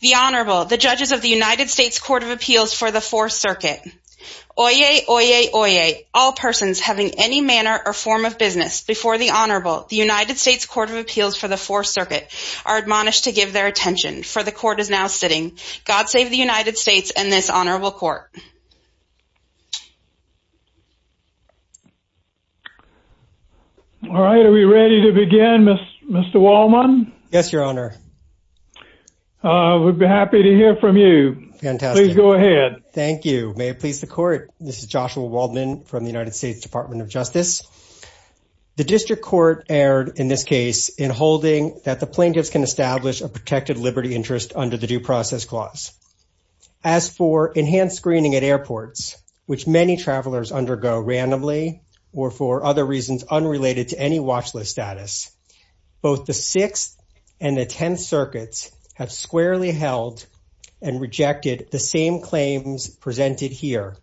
The Honorable, the Judges of the United States Court of Appeals for the Fourth Circuit. Oyez, oyez, oyez, all persons having any manner or form of business before the Honorable, the United States Court of Appeals for the Fourth Circuit, are admonished to give their attention, for the Court is now sitting. God save the United States and this Honorable Court. All right, are we ready to begin, Mr. Wallman? Yes, Your Honor. I would be happy to hear from you. Please go ahead. Thank you. May it please the Court, this is Joshua Wallman from the United States Department of Justice. The District Court erred in this case in holding that the plaintiffs can establish a protected liberty interest under the Due Process Clause. As for enhanced screening at airports, which many travelers undergo randomly or for other And the Tenth Circuit has squarely held and rejected the same claims presented here,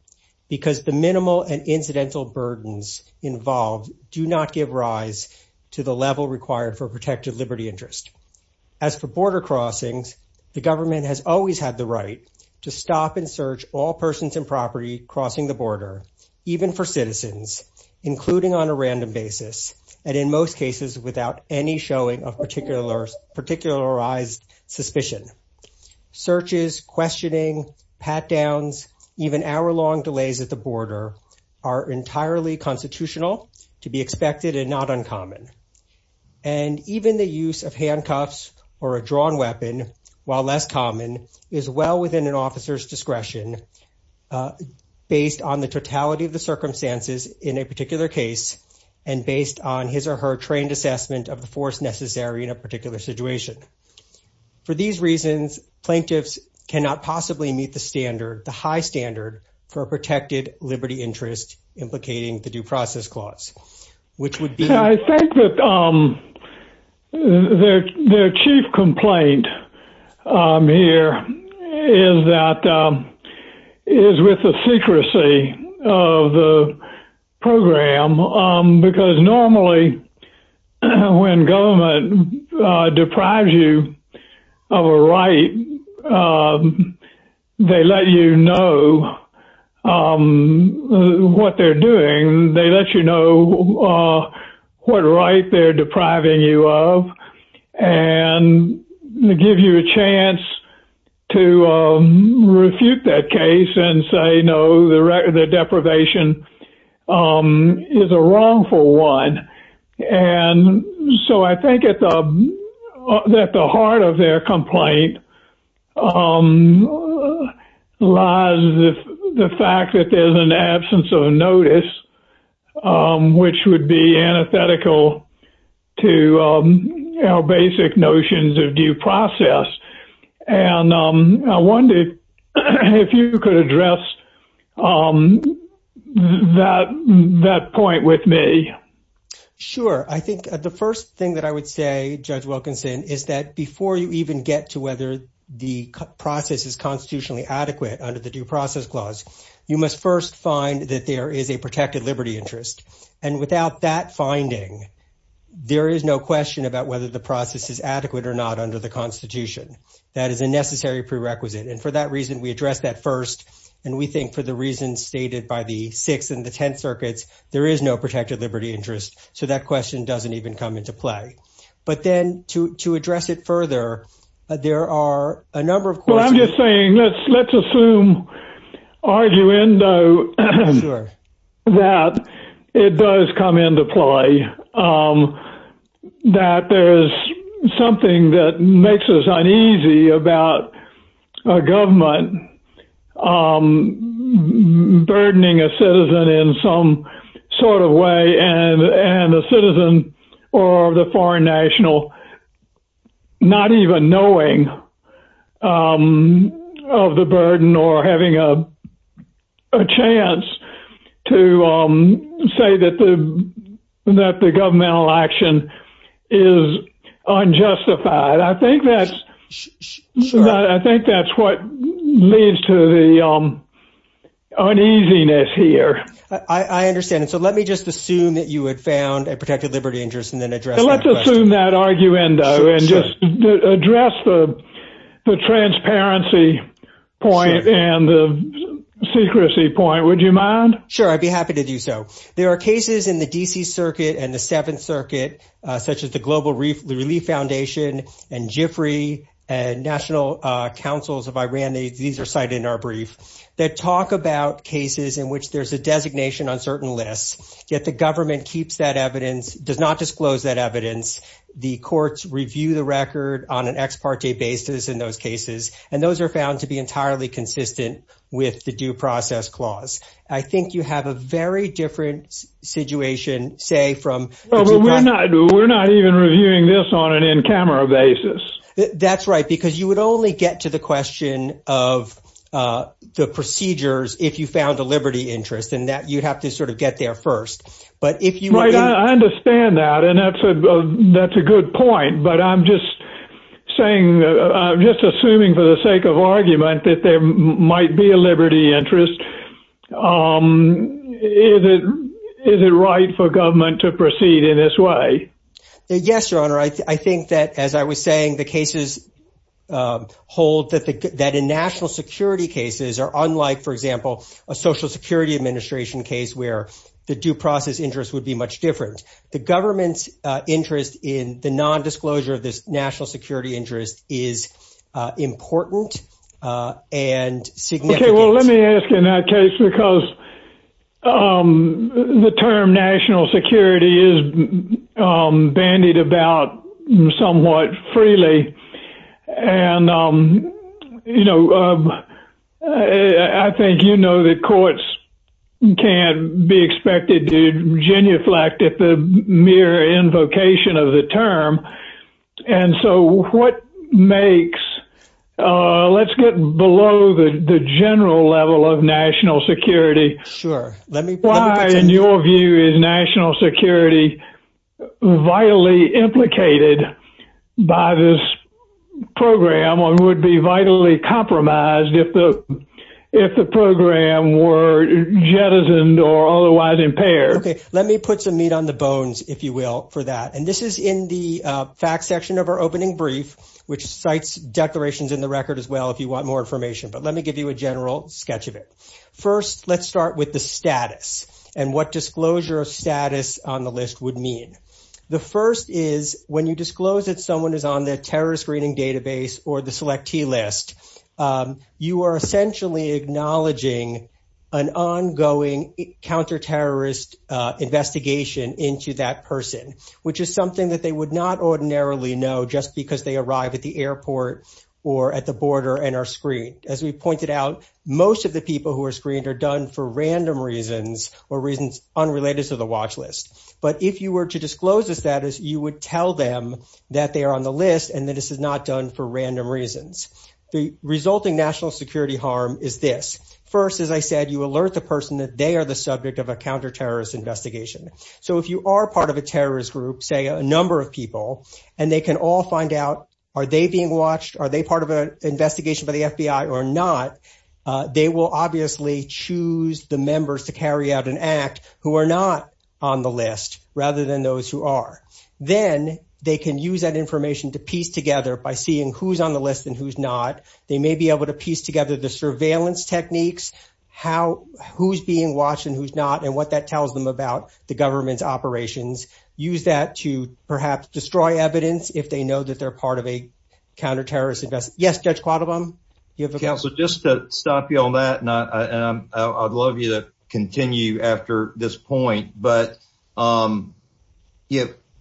because the minimal and incidental burdens involved do not give rise to the level required for protected liberty interest. As for border crossings, the government has always had the right to stop and search all persons and property crossing the border, even for citizens, including on a random basis, and in most cases, without any showing of particularized suspicion. Searches, questioning, pat-downs, even hour-long delays at the border are entirely constitutional to be expected and not uncommon. And even the use of handcuffs or a drawn weapon, while less common, is well within an officer's on his or her trained assessment of the force necessary in a particular situation. For these reasons, plaintiffs cannot possibly meet the standard, the high standard, for a protected liberty interest implicating the Due Process Clause, which would be I think that their chief complaint here is that, is with the secrecy of the program because normally when government deprives you of a right, they let you know what they're doing. They let you know what right they're depriving you of and give you a chance to refute that case and say, no, the deprivation is a wrongful one. And so I think at the heart of their complaint lies the fact that there's an absence of notice, which would be antithetical to basic notions of due process. And I wondered if you could address that point with me. Sure. I think the first thing that I would say, Judge Wilkinson, is that before you even get to whether the process is constitutionally adequate under the Due Process Clause, you must first find that there is a protected liberty interest. And without that finding, there is no question about whether the process is adequate or not under the Constitution. That is a necessary prerequisite. And for that reason, we address that first. And we think for the reasons stated by the Sixth and the Tenth Circuits, there is no protected liberty interest. So that question doesn't even come into play. But then to address it further, there are a number of questions. Well, I'm just saying, let's assume, arguendo, that it does come into play, that there is something that makes us uneasy about a government burdening a citizen in some sort of way, and a citizen or the foreign national not even knowing of the burden or having a chance to say that the governmental action is unjustified. I think that's what leads to the uneasiness here. I understand. So let me just assume that you had found a protected liberty interest and then address that question. Let's assume that arguendo and just address the transparency point and the secrecy point. Would you mind? Sure. I'd be happy to do so. There are cases in the D.C. Circuit and the Seventh Circuit, such as the Global Relief Foundation and GIFRI and National Councils of Iran, these are cited in our brief, that talk about cases in which there's a designation on certain lists, yet the government keeps that evidence, does not disclose that evidence, the courts review the record on an ex parte basis in those cases, and those are found to be entirely consistent with the due process clause. I think you have a very different situation, say, from Well, we're not even reviewing this on an in-camera basis. That's right. Because you would only get to the question of the procedures if you found a liberty interest and that you have to sort of get there first. But if you Right. I understand that. And that's a good point. But I'm just saying, just assuming for the sake of argument that there might be a liberty Is it right for government to proceed in this way? Yes, Your Honor. I think that, as I was saying, the cases hold that in national security cases are unlike, for example, a Social Security Administration case where the due process interest would be much different. The government's interest in the nondisclosure of this national security interest is important and significant. Okay, well, let me ask in that case, because the term national security is bandied about somewhat freely, and, you know, I think you know that courts can't be expected to genuflect at the mere invocation of the term. And so what makes, let's get below the general level of national security. Sure. Why, in your view, is national security vitally implicated by this program and would be vitally compromised if the program were jettisoned or otherwise impaired? Let me put some meat on the bones, if you will, for that. And this is in the fact section of our opening brief, which cites declarations in the record as well, if you want more information, but let me give you a general sketch of it. First, let's start with the status and what disclosure of status on the list would mean. The first is when you disclose that someone is on the terrorist screening database or the SelectT list, you are essentially acknowledging an ongoing counterterrorist investigation into that person, which is something that they would not ordinarily know just because they arrive at the airport or at the border and are screened. As we pointed out, most of the people who are screened are done for random reasons or reasons unrelated to the watch list. But if you were to disclose the status, you would tell them that they are on the list and that this is not done for random reasons. The resulting national security harm is this. First, as I said, you alert the person that they are the subject of a counterterrorist investigation. So, if you are part of a terrorist group, say a number of people, and they can all find out, are they being watched? Are they part of an investigation by the FBI or not? They will obviously choose the members to carry out an act who are not on the list rather than those who are. Then they can use that information to piece together by seeing who's on the list and who's not. They may be able to piece together the surveillance techniques, who's being watched and who's not, and what that tells them about the government's operations. Use that to perhaps destroy evidence if they know that they're part of a counterterrorist investigation. Yes, Judge Quattlebaum? So, just to stop you on that, and I'd love you to continue after this point, but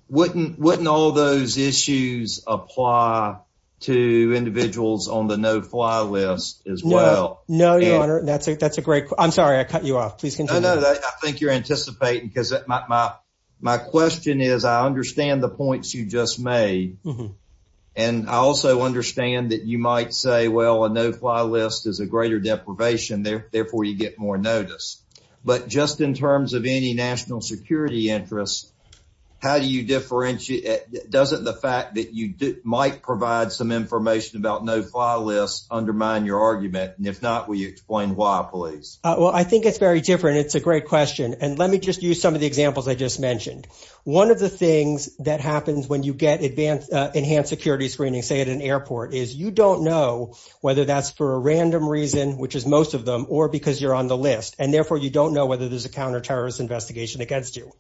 wouldn't all those issues apply to individuals on the no-fly list as well? No. That's a great question. I'm sorry. I cut you off. Please continue. No, no. I think you're anticipating, because my question is, I understand the points you just made, and I also understand that you might say, well, a no-fly list is a greater deprivation, therefore you get more notice. But just in terms of any national security interest, how do you differentiate, doesn't the fact that you might provide some information about no-fly lists undermine your argument? And if not, will you explain why, please? Well, I think it's very different, and it's a great question. And let me just use some of the examples I just mentioned. One of the things that happens when you get enhanced security screening, say at an airport, is you don't know whether that's for a random reason, which is most of them, or because you're on the list. And therefore, you don't know whether there's a counterterrorist investigation against you.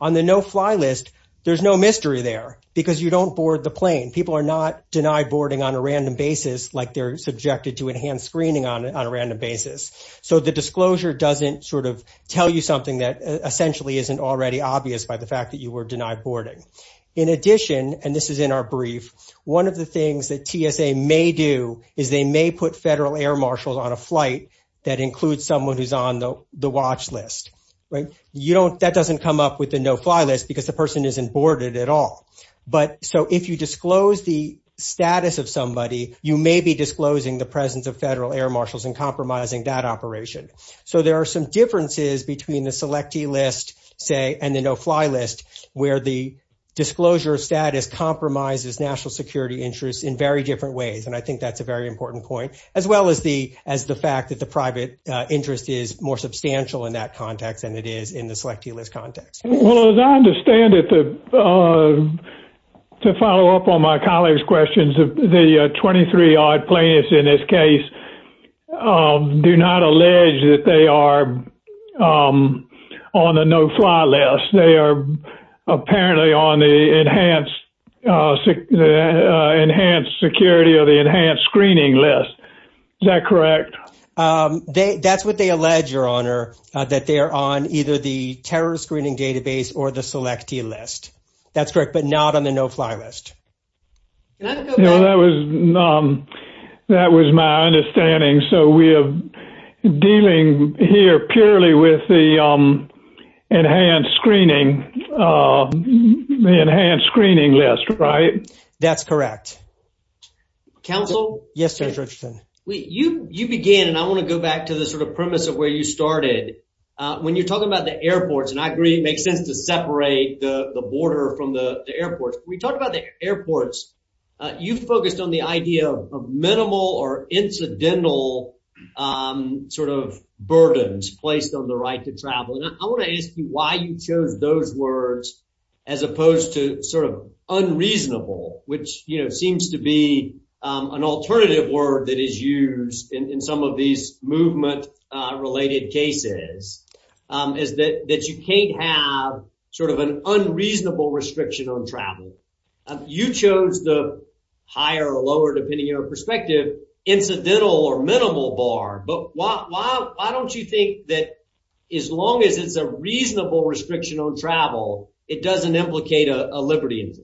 On the no-fly list, there's no mystery there, because you don't board the plane. People are not denied boarding on a random basis, like they're subjected to enhanced screening on a random basis. So the disclosure doesn't sort of tell you something that essentially isn't already obvious by the fact that you were denied boarding. In addition, and this is in our brief, one of the things that TSA may do is they may put federal air marshals on a flight that includes someone who's on the watch list. That doesn't come up with the no-fly list, because the person isn't boarded at all. So if you disclose the status of somebody, you may be disclosing the presence of federal air marshals and compromising that operation. So there are some differences between the selectee list, say, and the no-fly list, where the disclosure status compromises national security interests in very different ways. And I think that's a very important point, as well as the fact that the private interest is more substantial in that context than it is in the selectee list context. Well, as I understand it, to follow up on my colleague's questions, the 23-odd planes in this case do not allege that they are on the no-fly list. They are apparently on the enhanced security or the enhanced screening list. Is that correct? That's what they allege, Your Honor, that they are on either the terror screening database or the selectee list. That's correct, but not on the no-fly list. Can I just go back? No, that was my understanding. So we are dealing here purely with the enhanced screening list, right? That's correct. Counsel? Yes, Mr. Richardson. You began, and I want to go back to the sort of premise of where you started. When you're talking about the airports, and I agree it makes sense to separate the border from the airport. When you talk about the airports, you focus on the idea of minimal or incidental sort of burdens placed on the right to travel. I want to ask you why you chose those words as opposed to sort of unreasonable, which seems to be an alternative word that is used in some of these movement-related cases, is that you can't have sort of an unreasonable restriction on travel. You chose the higher or lower, depending on your perspective, incidental or minimal bar, but why don't you think that as long as it's a reasonable restriction on travel, it doesn't implicate a liberty?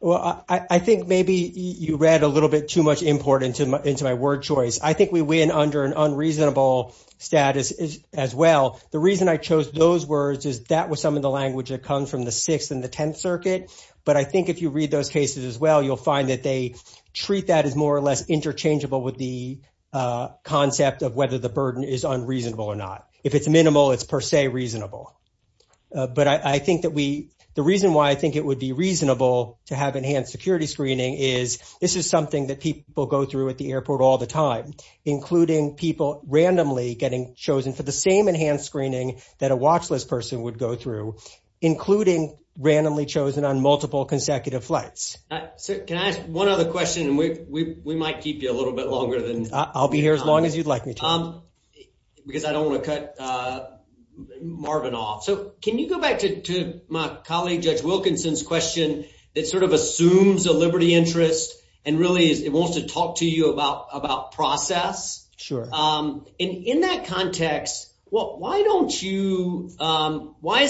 Well, I think maybe you read a little bit too much import into my word choice. I think we win under an unreasonable status as well. The reason I chose those words is that was some of the language that comes from the Sixth and the Tenth Circuit, but I think if you read those cases as well, you'll find that they treat that as more or less interchangeable with the concept of whether the burden is unreasonable or not. If it's minimal, it's per se reasonable. But I think that the reason why I think it would be reasonable to have enhanced security screening is this is something that people go through at the airport all the time, including people randomly getting chosen for the same enhanced screening that a watchlist person would go through, including randomly chosen on multiple consecutive flights. Can I ask one other question, and we might keep you a little bit longer than... I'll be here as long as you'd like me to. Because I don't want to cut Marvin off. So can you go back to my colleague Judge Wilkinson's question that sort of assumes a liberty interest and really wants to talk to you about process? Sure. And in that context, why is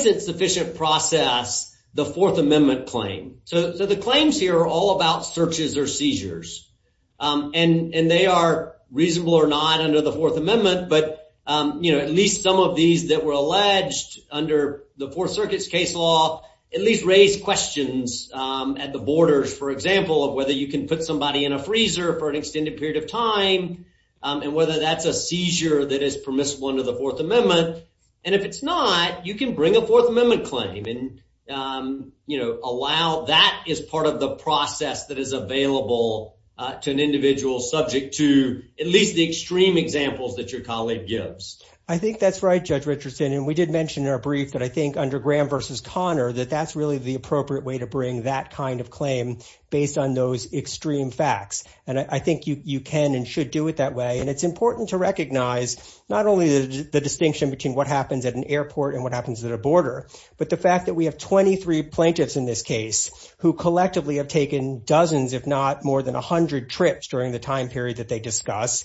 it sufficient to process the Fourth Amendment claim? So the claims here are all about searches or seizures, and they are reasonable or not under the Fourth Amendment, but at least some of these that were alleged under the Fourth Circuit's case law at least raised questions at the borders, for example, of whether you can put somebody in a freezer for an extended period of time and whether that's a seizure that is permissible under the Fourth Amendment. And if it's not, you can bring a Fourth Amendment claim and allow that as part of the process that is available to an individual subject to at least the extreme examples that your colleague gives. I think that's right, Judge Richardson, and we did mention in our brief that I think under Graham versus Connor that that's really the appropriate way to bring that kind of claim based on those extreme facts. And I think you can and should do it that way. And it's important to recognize not only the distinction between what happens at an airport and what happens at a border, but the fact that we have 23 plaintiffs in this case who collectively have taken dozens, if not more than 100 trips during the time period that they discuss,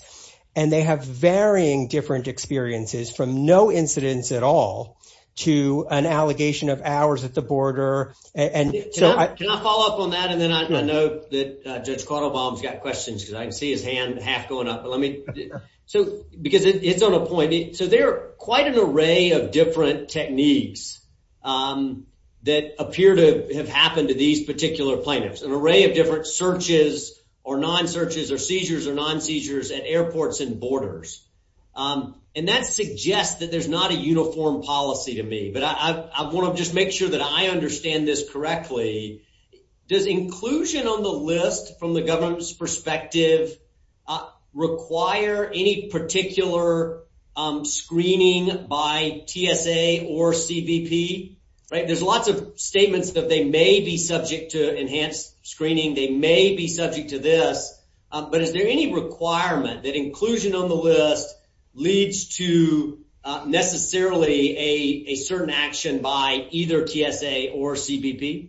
and they have varying different experiences from no incidents at all to an allegation of hours at the border. And can I follow up on that? And then I know that Judge Cardlebaum's got questions because I see his hand half going up. But let me so because it's on a point. So there are quite an array of different techniques that appear to have happened to these particular plaintiffs, an array of different searches or non-searches or seizures or non-seizures at airports and borders. And that suggests that there's not a uniform policy to me. But I want to just make sure that I understand this correctly. Does inclusion on the list from the government's perspective require any particular screening by TSA or CBP? There's lots of statements that they may be subject to enhanced screening. They may be subject to this. But is there any requirement that inclusion on the list leads to necessarily a certain action by either TSA or CBP?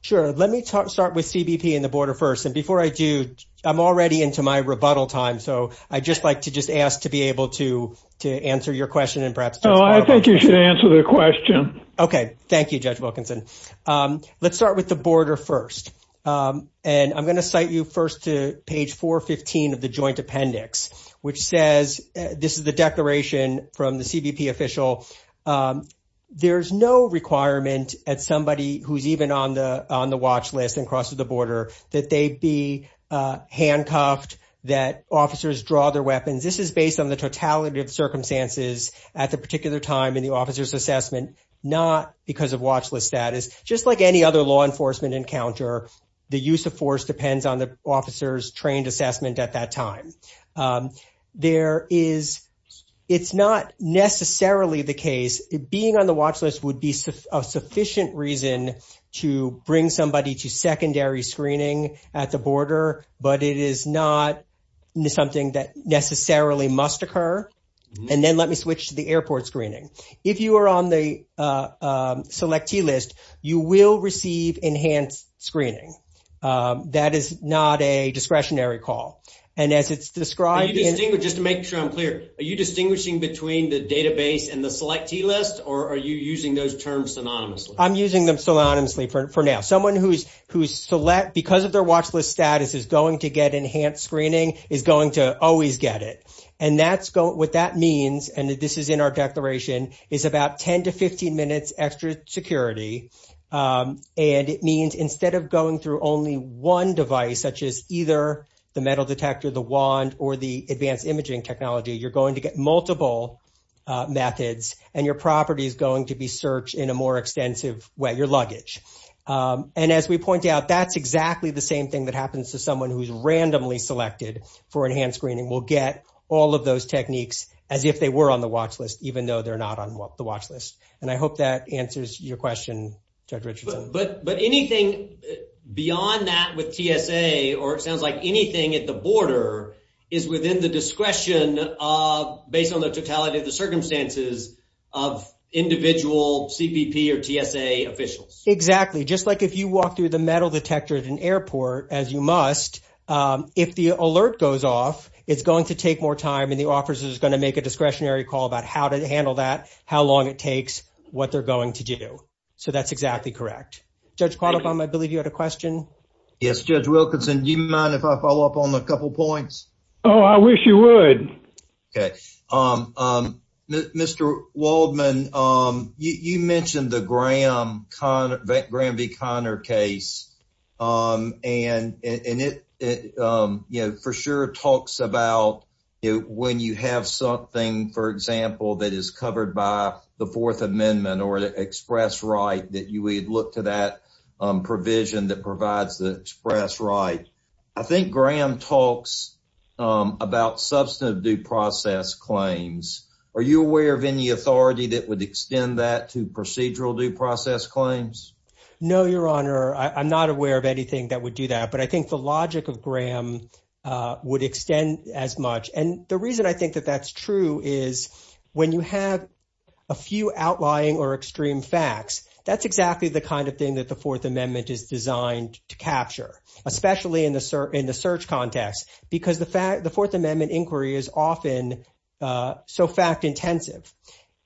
Sure. Let me start with CBP and the border first. And before I do, I'm already into my rebuttal time. So I'd just like to just ask to be able to answer your question and perhaps. Oh, I think you should answer the question. Okay. Thank you, Judge Wilkinson. Let's start with the border first. And I'm going to cite you first to page 415 of the joint appendix, which says this is the declaration from the CBP official. There is no requirement at somebody who's even on the watch list and across the border that they be handcuffed, that officers draw their weapons. This is based on the totality of circumstances at the particular time in the officer's assessment, not because of watch list status. Just like any other law enforcement encounter, the use of force depends on the officer's trained assessment at that time. There is, it's not necessarily the case, being on the watch list would be a sufficient reason to bring somebody to secondary screening at the border, but it is not something that necessarily must occur. And then let me switch to the airport screening. If you are on the selectee list, you will receive enhanced screening. That is not a discretionary call. And as it's described in- Just to make sure I'm clear, are you distinguishing between the database and the selectee list, or are you using those terms synonymously? I'm using them synonymously for now. Someone who's select, because of their watch list status, is going to get enhanced screening, is going to always get it. And that's what that means, and this is in our declaration, is about 10 to 15 minutes extra security. And it means instead of going through only one device, such as either the metal detector, the wand, or the advanced imaging technology, you're going to get multiple methods and your property is going to be searched in a more extensive way, your luggage. And as we point out, that's exactly the same thing that happens to someone who's randomly selected for enhanced screening. We'll get all of those techniques as if they were on the watch list, even though they're not on the watch list. And I hope that answers your question, Ted Richardson. But anything beyond that with TSA, or it sounds like anything at the border, is within the discretion of, based on the totality of the circumstances, of individual CPP or TSA officials. Exactly. Just like if you walk through the metal detector at an airport, as you must, if the alert goes off, it's going to take more time and the officer is going to make a discretionary call about how to handle that, how long it takes, what they're going to do. So that's exactly correct. Judge Qualifon, I believe you had a question. Yes, Judge Wilkinson. Do you mind if I follow up on a couple points? Oh, I wish you would. Okay. Mr. Waldman, you mentioned the Graham v. Connor case. And it for sure talks about when you have something, for example, that is covered by the Fourth Amendment or the express right, that you would look to that provision that provides the express right. I think Graham talks about substantive due process claims. Are you aware of any authority that would extend that to procedural due process claims? No, Your Honor. I'm not aware of anything that would do that. But I think the logic of Graham would extend as much. And the reason I think that that's true is when you have a few outlying or extreme facts, that's exactly the kind of thing that the Fourth Amendment is designed to capture, especially in the search context, because the Fourth Amendment inquiry is often so fact intensive.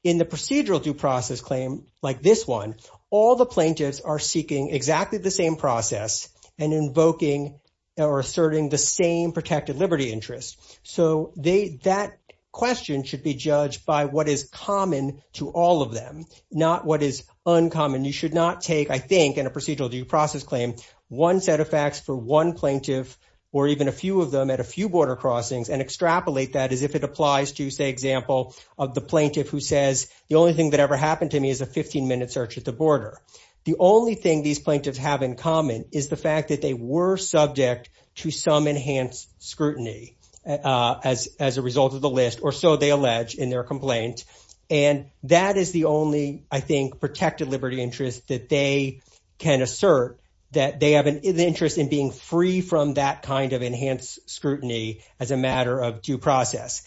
In the procedural due process claim, like this one, all the plaintiffs are seeking exactly the same process and invoking or asserting the same protected liberty interest. So that question should be judged by what is common to all of them, not what is uncommon. You should not take, I think, in a procedural due process claim, one set of facts for one plaintiff or even a few of them at a few border crossings and extrapolate that as if it applies to, say, example of the plaintiff who says, the only thing that ever happened to me is a 15-minute search at the border. The only thing these plaintiffs have in common is the fact that they were subject to some enhanced scrutiny as a result of the list, or so they allege in their complaint. And that is the only, I think, protected liberty interest that they can assert, that they have an interest in being free from that kind of enhanced scrutiny as a matter of due process.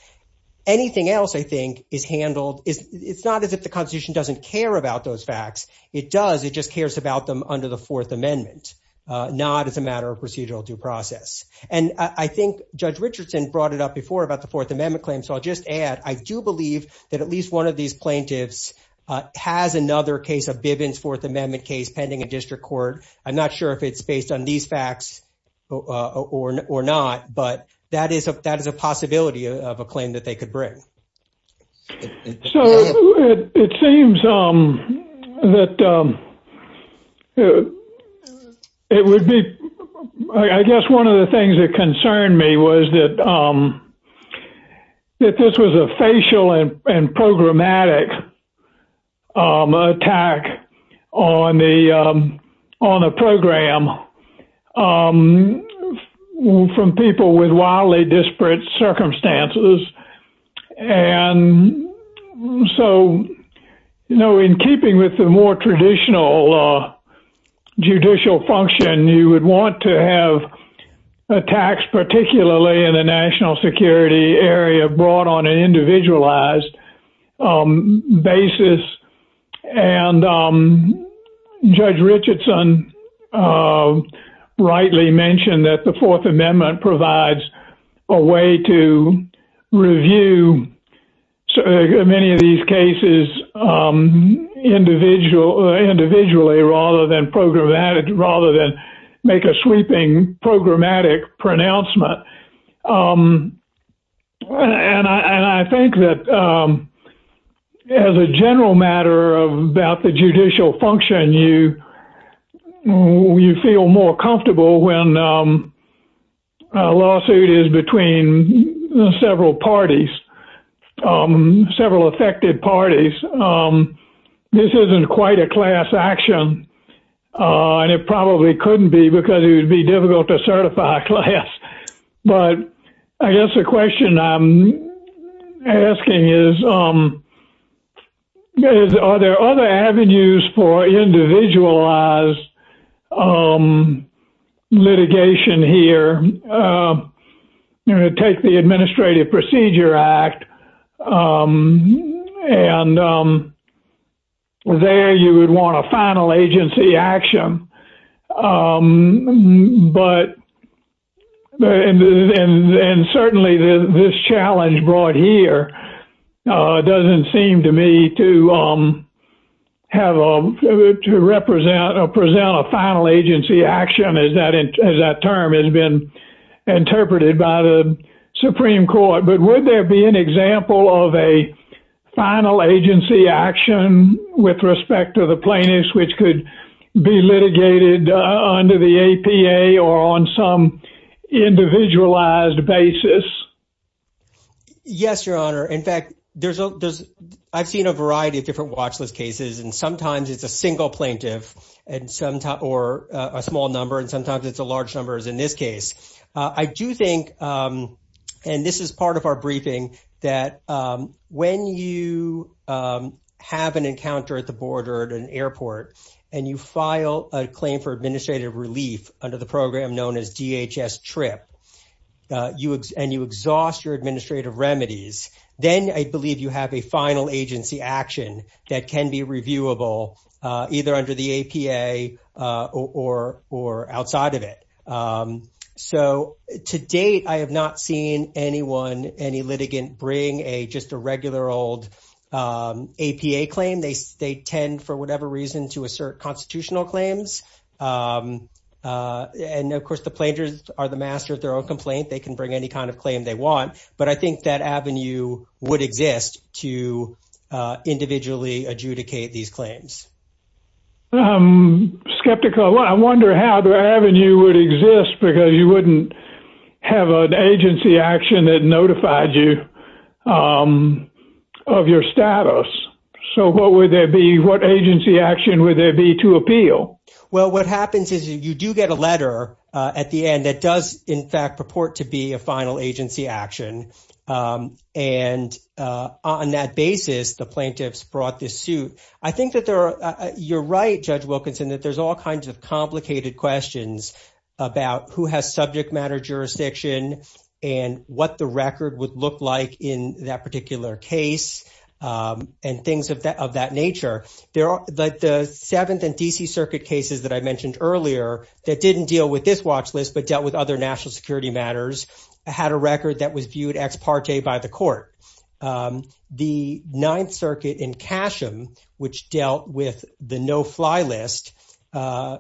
Anything else, I think, is handled, it's not as if the Constitution doesn't care about those facts. It does. It just cares about them under the Fourth Amendment, not as a matter of procedural due process. And I think Judge Richardson brought it up before about the Fourth Amendment claim. So I'll just add, I do believe that at least one of these plaintiffs has another case of Bivens' Fourth Amendment case pending in district court. I'm not sure if it's based on these facts or not, but that is a possibility of a claim that they could bring. So it seems that it would be, I guess one of the things that concerned me was that this was a facial and programmatic attack on a program from people with wildly disparate circumstances. And so, you know, in keeping with the more traditional judicial function, you would want to have attacks, particularly in the national security area, brought on an individualized basis. And Judge Richardson rightly mentioned that the Fourth Amendment provides a way to review many of these cases individually rather than programmatic, rather than make a sweeping programmatic pronouncement. And I think that as a general matter about the judicial function, you feel more comfortable when a lawsuit is between several parties, several affected parties. This isn't quite a class action, and it probably couldn't be because it would be difficult to certify a class. But I guess the question I'm asking is, are there other avenues for individualized litigation here? You're going to take the Administrative Procedure Act, and there you would want a final agency action. And certainly, this challenge brought here doesn't seem to me to have a—to represent or present a final agency action, as that term has been interpreted by the Supreme Court. But would there be an example of a final agency action with respect to the plaintiffs which could be litigated under the APA or on some individualized basis? Yes, Your Honor. In fact, I've seen a variety of different watchlist cases, and sometimes it's a single plaintiff or a small number, and sometimes it's a large number, as in this case. I do think—and this is part of our briefing—that when you have an encounter at the Supreme Court, and you file a claim for administrative relief under the program known as DHS TRIP, and you exhaust your administrative remedies, then I believe you have a final agency action that can be reviewable either under the APA or outside of it. So, to date, I have not seen anyone, any litigant, bring just a regular old APA claim. They tend, for whatever reason, to assert constitutional claims. And, of course, the plaintiffs are the masters of their own complaint. They can bring any kind of claim they want. But I think that avenue would exist to individually adjudicate these claims. I'm skeptical. I wonder how the avenue would exist, because you wouldn't have an agency action that notified you of your status. So what agency action would there be to appeal? Well, what happens is you do get a letter at the end that does, in fact, purport to be a final agency action. And on that basis, the plaintiffs brought this suit. I think that you're right, Judge Wilkinson, that there's all kinds of complicated questions about who has subject matter jurisdiction and what the record would look like in that of that nature. But the Seventh and D.C. Circuit cases that I mentioned earlier that didn't deal with this watch list but dealt with other national security matters had a record that was viewed ex parte by the court. The Ninth Circuit in Casham, which dealt with the no-fly list,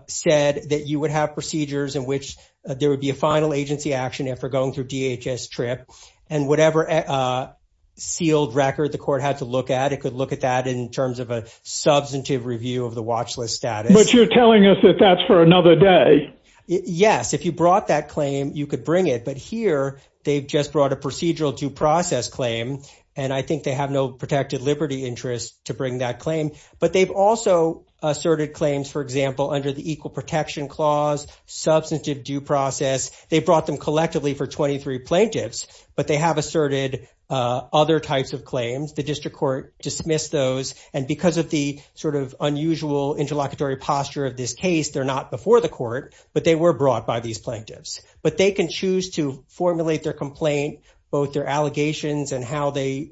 said that you would have procedures in which there would be a final agency action if you're going through DHS TRIP. And whatever field record the court had to look at, it could look at that in terms of a substantive review of the watch list status. But you're telling us that that's for another day. Yes. If you brought that claim, you could bring it. But here, they've just brought a procedural due process claim, and I think they have no protected liberty interest to bring that claim. But they've also asserted claims, for example, under the Equal Protection Clause, substantive due process. They brought them collectively for 23 plaintiffs, but they have asserted other types of claims. The district court dismissed those. And because of the sort of unusual interlocutory posture of this case, they're not before the court, but they were brought by these plaintiffs. But they can choose to formulate their complaint, both their allegations and how they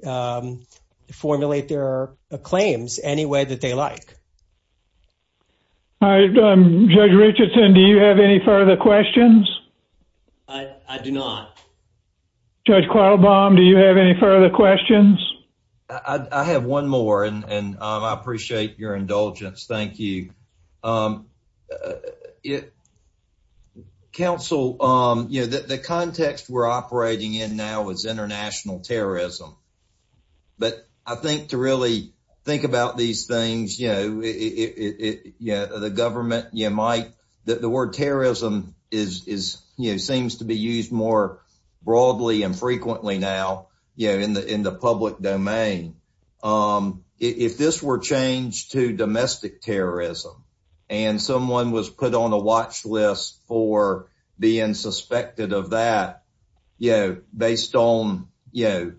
formulate their claims any way that they like. All right. Judge Richardson, do you have any further questions? I do not. Judge Quattlebaum, do you have any further questions? I have one more, and I appreciate your indulgence. Thank you. Counsel, the context we're operating in now is international terrorism. But I think to really think about these things, the government, the word terrorism is, you know, seems to be used more broadly and frequently now, you know, in the public domain. If this were changed to domestic terrorism, and someone was put on a watch list for being suspected of that, you know, based on, you know,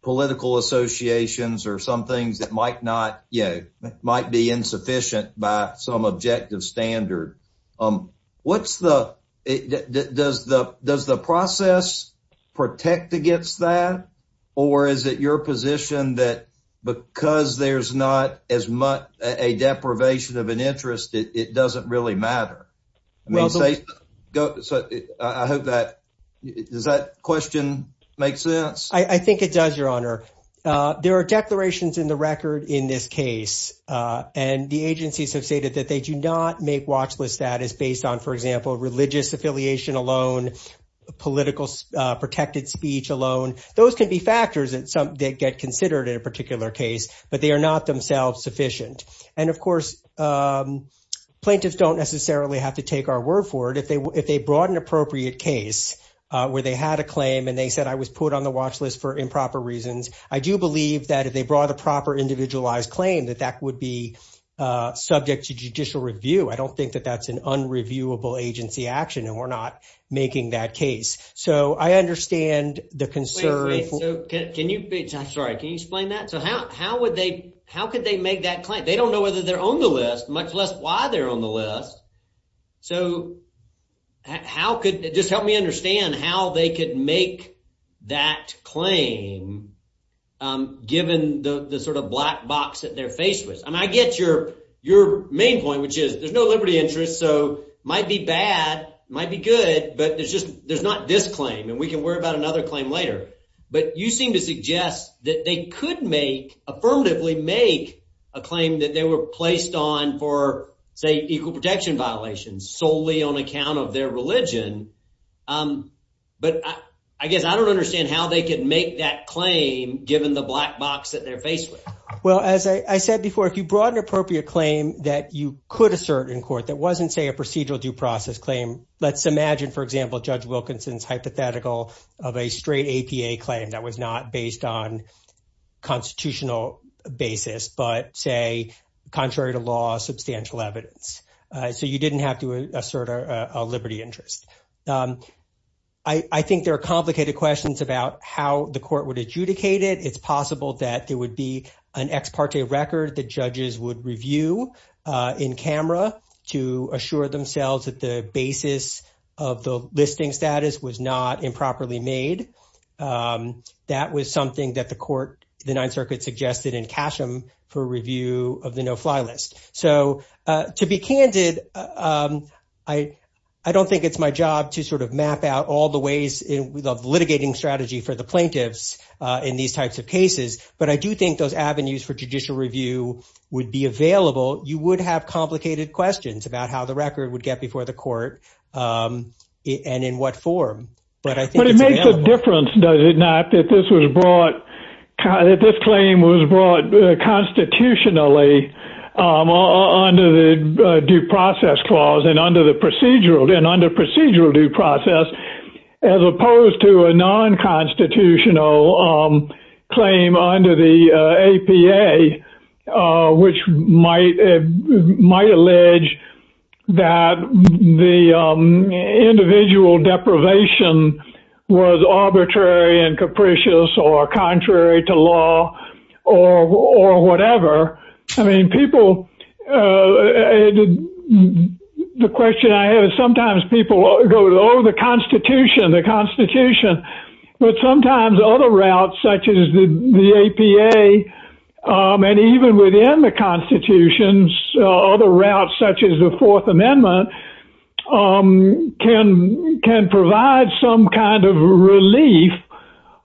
political associations or some things that might not, you know, might be insufficient by some objective standard. What's the, does the process protect against that? Or is it your position that because there's not as much a deprivation of an interest, it doesn't really matter? So I hope that, does that question make sense? I think it does, Your Honor. There are declarations in the record in this case, and the agencies have stated that they do not make watch lists that is based on, for example, religious affiliation alone, political protected speech alone. Those could be factors that get considered in a particular case, but they are not themselves sufficient. And of course, plaintiffs don't necessarily have to take our word for it. If they brought an appropriate case where they had a claim, and they said I was put on the watch list for improper reasons, I do believe that if they brought a proper individualized claim, that that would be subject to judicial review. I don't think that that's an unreviewable agency action, and we're not making that case. So I understand the concern. Can you, I'm sorry, can you explain that? So how would they, how could they make that claim? They don't know whether they're on the list, much less why they're on the list. So how could, just help me understand how they could make that claim, given the sort of black box that they're faced with? I mean, I get your main point, which is there's no liberty interest, so it might be bad, it might be good, but there's just, there's not this claim, and we can worry about another claim later. But you seem to suggest that they could make, affirmatively make, a claim that they were placed on for, say, equal protection violations, solely on account of their religion. But I guess I don't understand how they could make that claim, given the black box that they're faced with. As I said before, if you brought an appropriate claim that you could assert in court, that wasn't, say, a procedural due process claim, let's imagine, for example, Judge Wilkinson's hypothetical of a straight APA claim that was not based on constitutional basis, but say, contrary to law, substantial evidence. So you didn't have to assert a liberty interest. I think there are complicated questions about how the court would adjudicate it. It's possible that it would be an ex parte record that judges would review in camera to assure themselves that the basis of the listing status was not improperly made. That was something that the court, the Ninth Circuit, suggested in Casham for review of the no-fly list. So to be candid, I don't think it's my job to sort of map out all the ways in the litigating strategy for the plaintiffs in these types of cases. But I do think those avenues for judicial review would be available. You would have complicated questions about how the record would get before the court and in what form. But I think- But it makes a difference, does it not, that this claim was brought constitutionally under the due process clause and under procedural due process, as opposed to a non-constitutional claim under the APA, which might allege that the individual deprivation was arbitrary and capricious or contrary to law or whatever. I mean, people- The question I have is sometimes people go, oh, the Constitution, the Constitution. But sometimes other routes, such as the APA, and even within the Constitution, other routes, such as the Fourth Amendment, can provide some kind of relief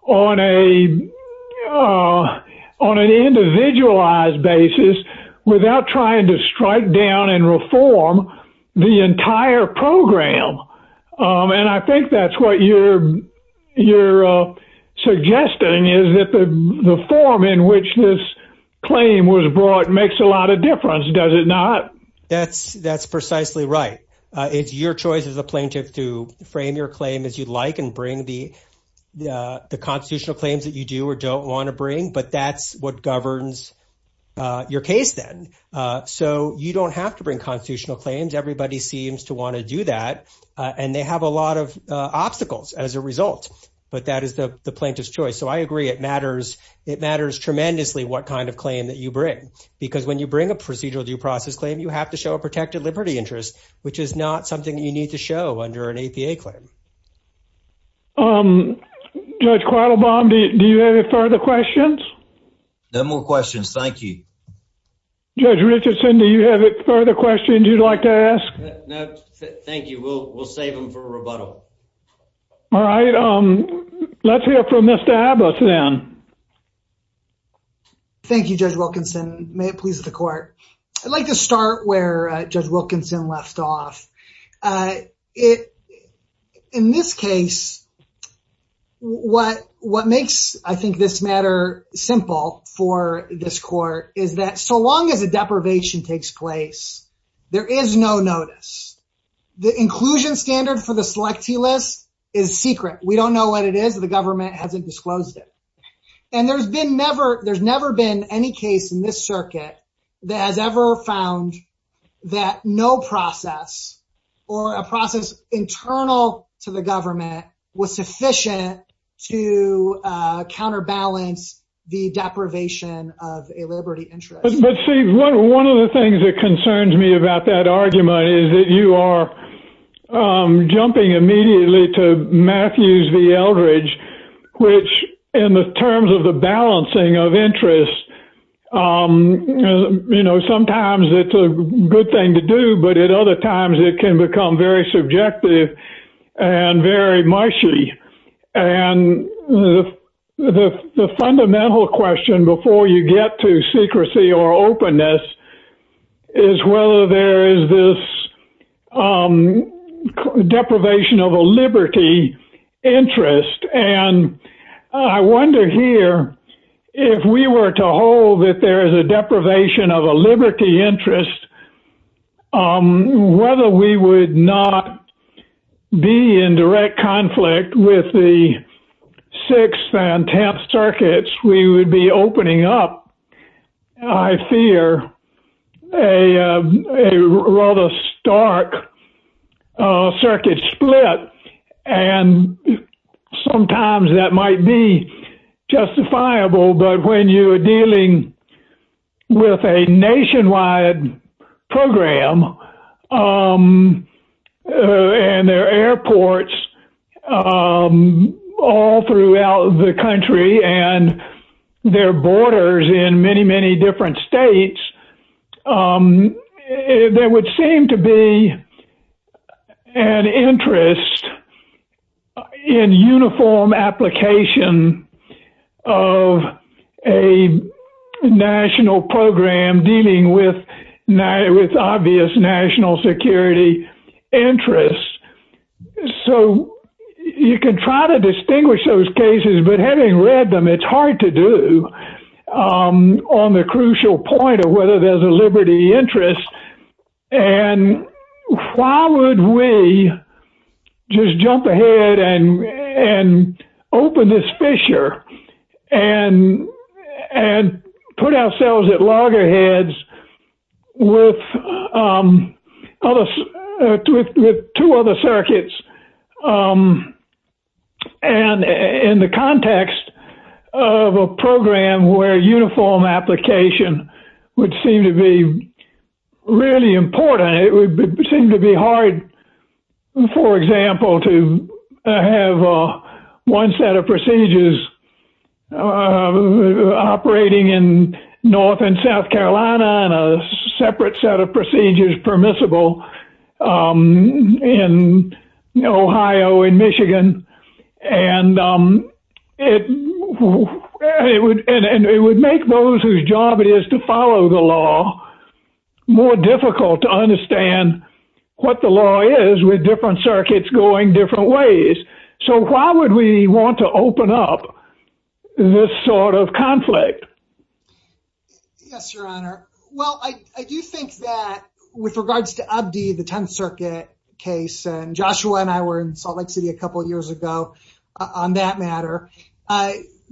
on an individualized basis without trying to strike down and reform the entire program. And I think that's what you're suggesting, is that the form in which this claim was brought makes a lot of difference, does it not? That's precisely right. It's your choice as a plaintiff to frame your claim as you'd like and bring the constitutional claim that governs your case then. So you don't have to bring constitutional claims. Everybody seems to want to do that. And they have a lot of obstacles as a result. But that is the plaintiff's choice. So I agree, it matters. It matters tremendously what kind of claim that you bring. Because when you bring a procedural due process claim, you have to show a protected liberty interest, which is not something you need to show under an APA claim. Judge Quattlebaum, do you have any further questions? No more questions, thank you. Judge Richardson, do you have any further questions you'd like to ask? No, thank you. We'll save them for rebuttal. All right, let's hear from Mr. Abbott then. Thank you, Judge Wilkinson. May it please the court. I'd like to start where Judge Wilkinson left off. In this case, what makes, I think, this matter simple for this court is that so long as a deprivation takes place, there is no notice. The inclusion standard for the selectee list is secret. We don't know what it is. The government hasn't disclosed it. And there's never been any case in this circuit that has ever found that no process or a process internal to the government was sufficient to counterbalance the deprivation of a liberty interest. But see, one of the things that concerns me about that argument is that you are jumping immediately to Matthews v. Eldridge, which in the terms of the balancing of interest, you know, sometimes it's a good thing to do, but at other times it can become very subjective and very mushy. And the fundamental question before you get to secrecy or openness is whether there is this deprivation of a liberty interest. And I wonder here if we were to hold that there is a deprivation of a liberty interest, whether we would not be in direct conflict with the Sixth and Tenth Circuits we would be opening up, I fear, a rather stark circuit split. And sometimes that might be justifiable. But when you're dealing with a nationwide program and there are airports all throughout the country and there are borders in many, many different states, there would seem to be an interest in uniform application of a national program dealing with obvious national security interests. So you can try to distinguish those cases, but having read them, it's hard to do on the crucial point of whether there's a liberty interest. And why would we just jump ahead and open this fissure and put ourselves at loggerheads with two other circuits in the context of a program where uniform application would seem to be really important. It would seem to be hard, for example, to have one set of procedures operating in North and South Carolina and a separate set of procedures permissible in Ohio and Michigan. And it would make those whose job it is to follow the law more difficult to understand what the law is with different circuits going different ways. So why would we want to open up this sort of conflict? Yes, Your Honor. Well, I do think that with regards to Abdi, the Tenth Circuit case, and Joshua and I were in Salt Lake City a couple of years ago on that matter.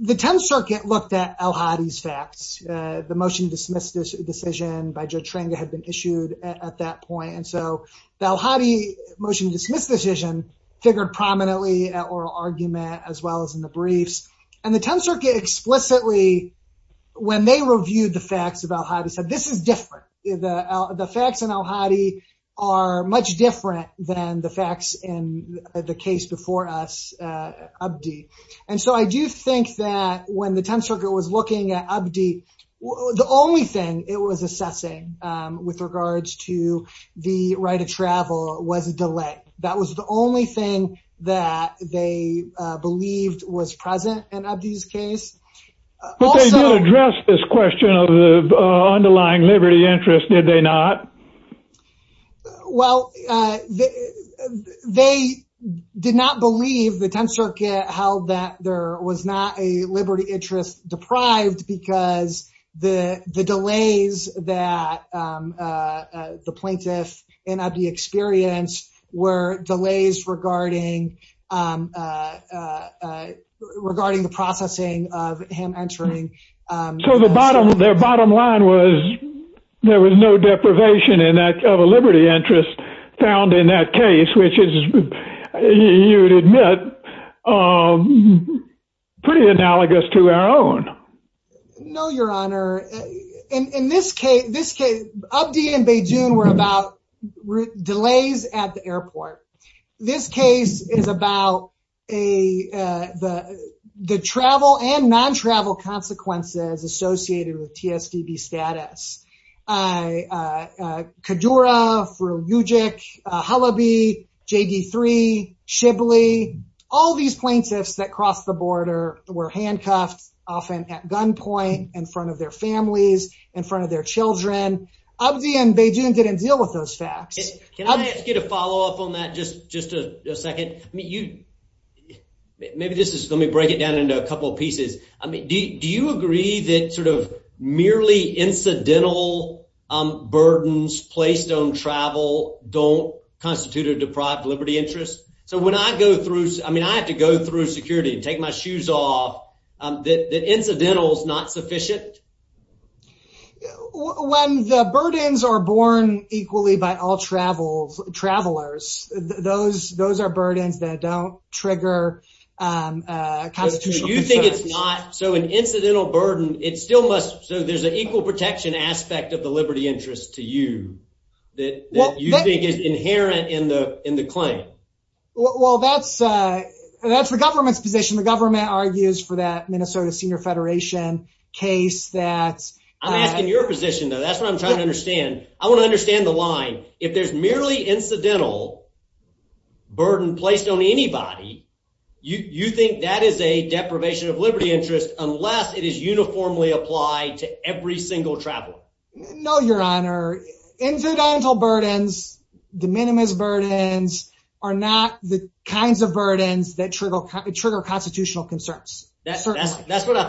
The Tenth Circuit looked at Elhadi's facts. The motion to dismiss this decision by Joe Tringa had been issued at that point. And so the Elhadi motion to dismiss decision figured prominently at oral argument as well as in the briefs. And the Tenth Circuit explicitly, when they reviewed the facts of Elhadi, said this is different. The facts in Elhadi are much different than the facts in the case before us, Abdi. And so I do think that when the Tenth Circuit was looking at Abdi, the only thing it was assessing with regards to the right of travel was the delay. That was the only thing that they believed was present in Abdi's case. But they did address this question of the underlying liberty interest, did they not? Well, they did not believe, the Tenth Circuit held that there was not a liberty interest deprived because the delays that the plaintiffs in Abdi experienced were delays regarding the processing of him entering. So their bottom line was there was no deprivation of a liberty interest found in that case, which is, you would admit, pretty analogous to our own. No, Your Honor. In this case, Abdi and Beijing were about delays at the airport. This case is about the travel and non-travel consequences associated with TSVB status. Kadura, Rujik, Halaby, JD3, Shibley, all these plaintiffs that crossed the border were handcuffed, often at gunpoint, in front of their families, in front of their children. Abdi and Beijing didn't deal with those facts. Can I ask you to follow up on that just a second? Maybe just let me break it down into a couple of pieces. Do you agree that merely incidental burdens placed on travel don't constitute a deprived liberty interest? So when I go through, I mean, I have to go through security and take my shoes off, that incidental is not sufficient? When the burdens are borne equally by all travelers, those are burdens that don't trigger a kind of... So you think it's not, so an incidental burden, it still must, so there's an equal protection aspect of the liberty interest to you, that you think is inherent in the claim? Well, that's the government's position. The government argues for that Minnesota Senior Federation case, that... I'm asking your position, though. That's what I'm trying to understand. I want to understand the line. If there's merely incidental burden placed on anybody, you think that is a deprivation of liberty interest unless it is uniformly applied to every single traveler? No, Your Honor. Incidental burdens, de minimis burdens, are not the kinds of burdens that trigger constitutional concerns. That's what I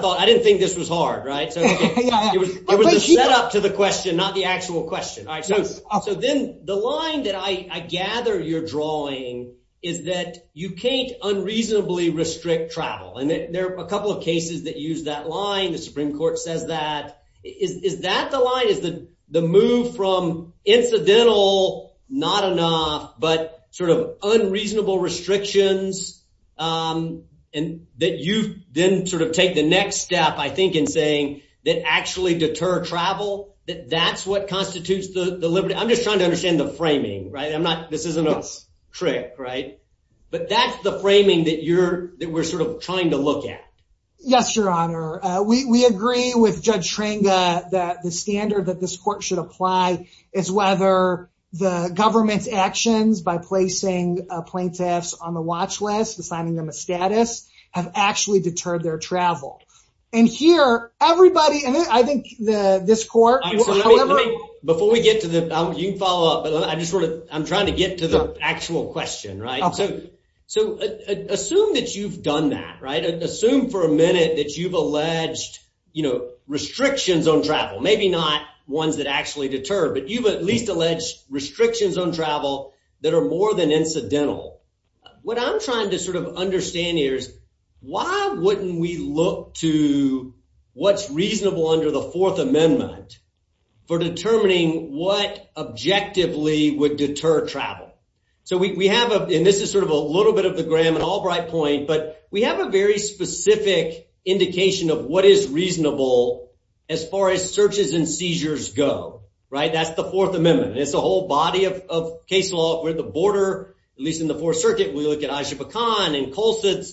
thought. I didn't think this was hard, right? It was a set up to the question, not the actual question. So then the line that I gather you're drawing is that you can't unreasonably restrict travel. And there are a couple of cases that use that line. The Supreme Court says that. Is that the line? Is the move from incidental, not enough, but sort of unreasonable restrictions, and that then sort of take the next step, I think, in saying that actually deter travel, that that's what constitutes the liberty... I'm just trying to understand the framing, right? I'm not... This isn't a trick, right? But that's the framing that we're sort of trying to look at. Yes, Your Honor. We agree with Judge Tranga that the standard that this court should apply is whether the government's actions by placing plaintiffs on the watch list, assigning them a status, have actually deterred their travel. And here, everybody... And I think this court... Before we get to this, you can follow up, but I'm trying to get to the actual question, right? So assume that you've done that, right? Assume for a minute that you've alleged restrictions on travel, maybe not ones that actually deter, but you've at least alleged restrictions on travel that are more than incidental. What I'm trying to sort of understand here is why wouldn't we look to what's reasonable under the Fourth Amendment for determining what objectively would deter travel? So we have... And this is sort of a little bit of the Graham-Albright point, but we have a very specific indication of what is reasonable as far as searches and seizures go, right? That's the Fourth Amendment. It's a whole body of case law. If we're at the border, at least in the Fourth Circuit, we look at Ishaq Khan and Colson.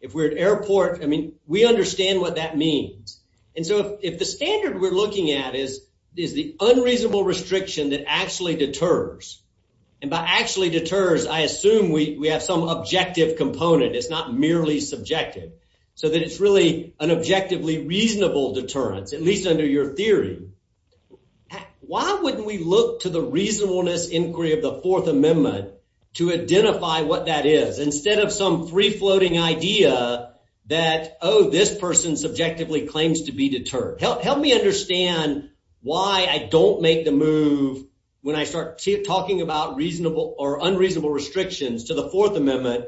If we're at airport, I mean, we understand what that means. And so if the standard we're looking at is the unreasonable restriction that actually deters, and by actually deters, I assume we have some objective component. It's not merely subjective. So that it's really an objectively reasonable deterrent, at least under your theory. Why wouldn't we look to the reasonableness inquiry of the Fourth Amendment to identify what that is, instead of some free-floating idea that, oh, this person subjectively claims to be deterred? Help me understand why I don't make the move when I start talking about reasonable or unreasonable restrictions to the Fourth Amendment,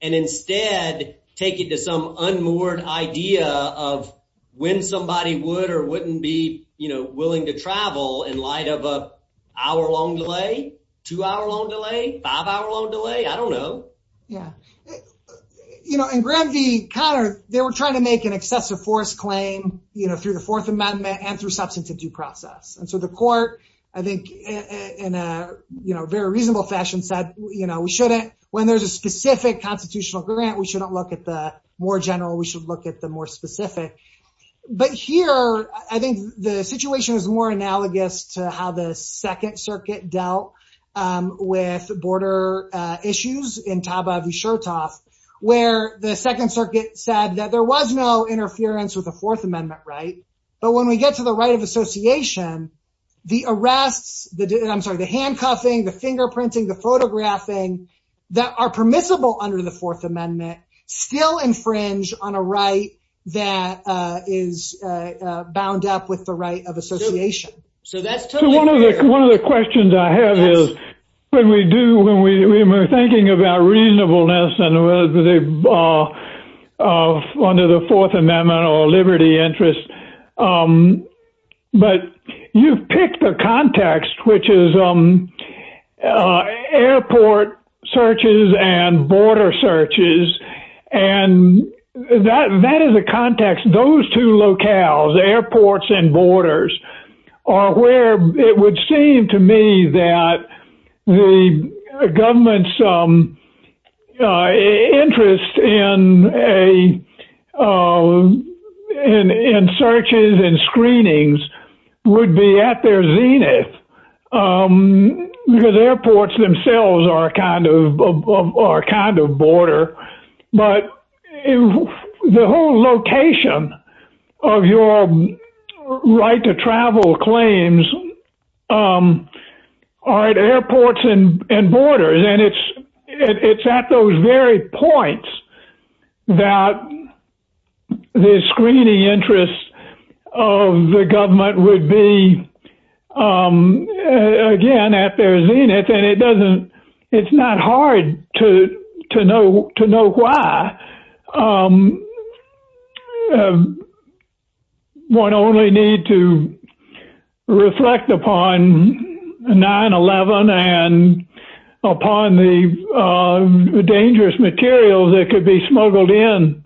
and instead take it to some unmoored idea of when somebody would or wouldn't be willing to travel in light of an hour-long delay? Two-hour-long delay? Five-hour-long delay? I don't know. Yeah. You know, in Grant v. Connor, they were trying to make an excessive force claim through the Fourth Amendment and through substance of due process. And so the court, I think, in a very reasonable fashion said, you know, we shouldn't, when there's a specific constitutional grant, we shouldn't look at the more general. We should look at the more specific. But here, I think the situation is more analogous to how the Second Circuit dealt with border issues in Taba v. Shurtop, where the Second Circuit said that there was no interference with the Fourth Amendment right. But when we get to the right of association, the arrest, I'm sorry, the handcuffing, the fingerprinting, the photographing that are permissible under the Fourth Amendment still infringe on a right that is bound up with the right of association. So that's totally fair. One of the questions I have is, when we do, when we were thinking about reasonableness and whether they're under the Fourth Amendment or liberty interest, but you picked the context, which is airport searches and border searches. And that is a context, those two locales, airports and borders are where it would seem to me that the government's interest in searches and screenings would be at their zenith, because airports themselves are kind of border. But the whole location of your right to travel claims are at airports and borders. And it's at those very points that the screening interest of the government would be again at their zenith. And it doesn't, it's not hard to know why. One only need to reflect upon 9-11 and upon the dangerous materials that could be smuggled in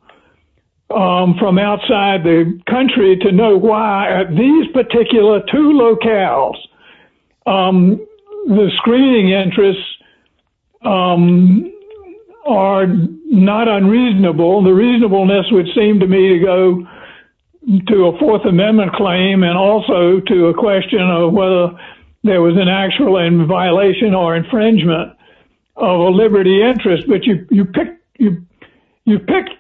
from outside the country to know why at these particular two locales the screening interests are not unreasonable. The reasonableness would seem to me to go to a Fourth Amendment claim and also to a question of whether there was an actual violation or infringement of a liberty interest. But you picked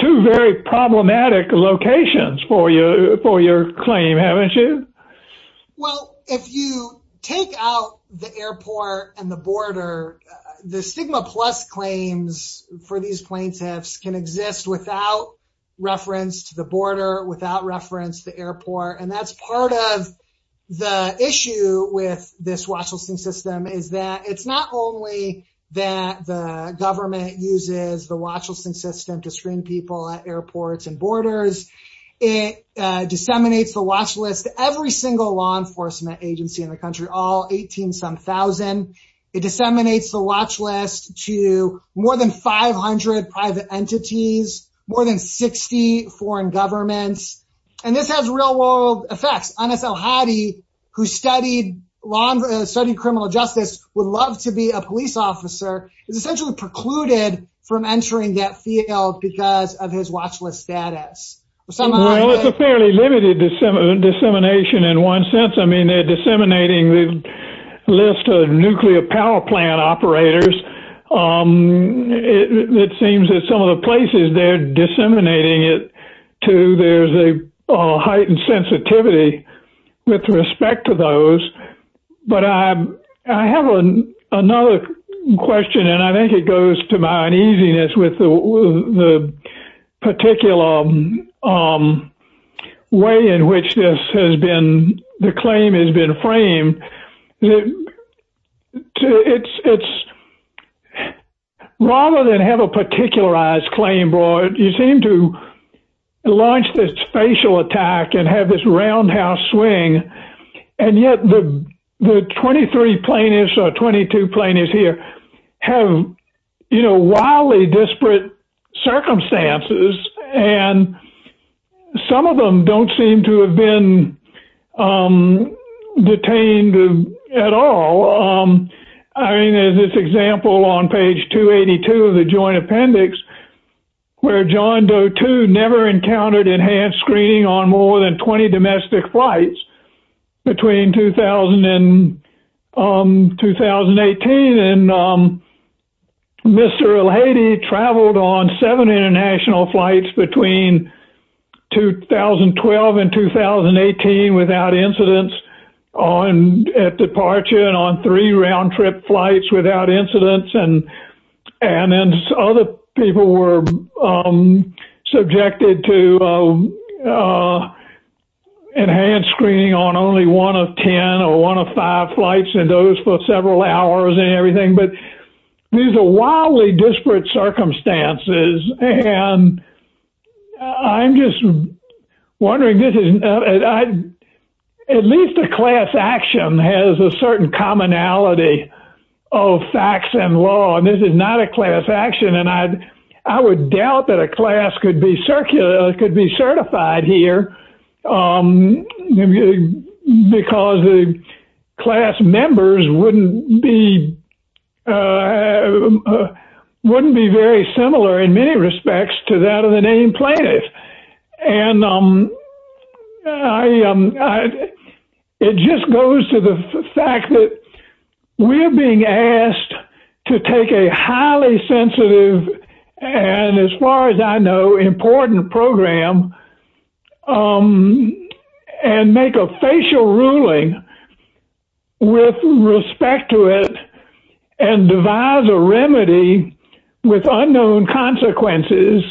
two very problematic locations for your claim, haven't you? Well, if you take out the airport and the border, the Sigma Plus claims for these plaintiffs can exist without reference to the border, without reference to airport. And that's part of the issue with this Washington system is that it's not only that the government uses the watch list system to screen people at airports and borders. It disseminates the watch list to every single law enforcement agency in the country, all 18 some thousand. It disseminates the watch list to more than 500 private entities, more than 60 foreign governments. And this has real world effects. Anas Al-Hadi, who studied criminal justice, would love to be a police officer, is essentially precluded from entering that field because of his watch list status. Well, it's a fairly limited dissemination in one sense. I mean, they're disseminating the list of nuclear power plant operators. It seems that some of the places they're disseminating it to, there's a heightened sensitivity with respect to those. But I have another question, and I think it goes to my uneasiness with the particular way in which this has been, the claim has been framed. Rather than have a particularized claim, you seem to launch this facial attack and have this roundhouse swing. And yet the 23 plaintiffs or 22 plaintiffs here have, you know, wildly disparate circumstances. And some of them don't seem to have been detained at all. I mean, in this example on page 282 of the joint appendix, where John Doe, too, never encountered enhanced screening on more than 20 domestic flights between 2000 and 2018. And Mr. Al-Hadi traveled on seven international flights between 2012 and 2018 without incidence at departure and on three round-trip flights without incidence. And then other people were subjected to enhanced screening on only one of 10 or one of five flights and those for several hours and everything. But these are wildly disparate circumstances. And I'm just wondering, at least the class action has a certain commonality of facts and law. And this is not a class action. And I would doubt that a class could be certified here because the class members wouldn't be very similar in many respects to that of the named plaintiffs. And it just goes to the fact that we're being asked to take a highly sensitive and, as far as I know, important program and make a facial ruling with respect to it and devise a remedy with unknown consequences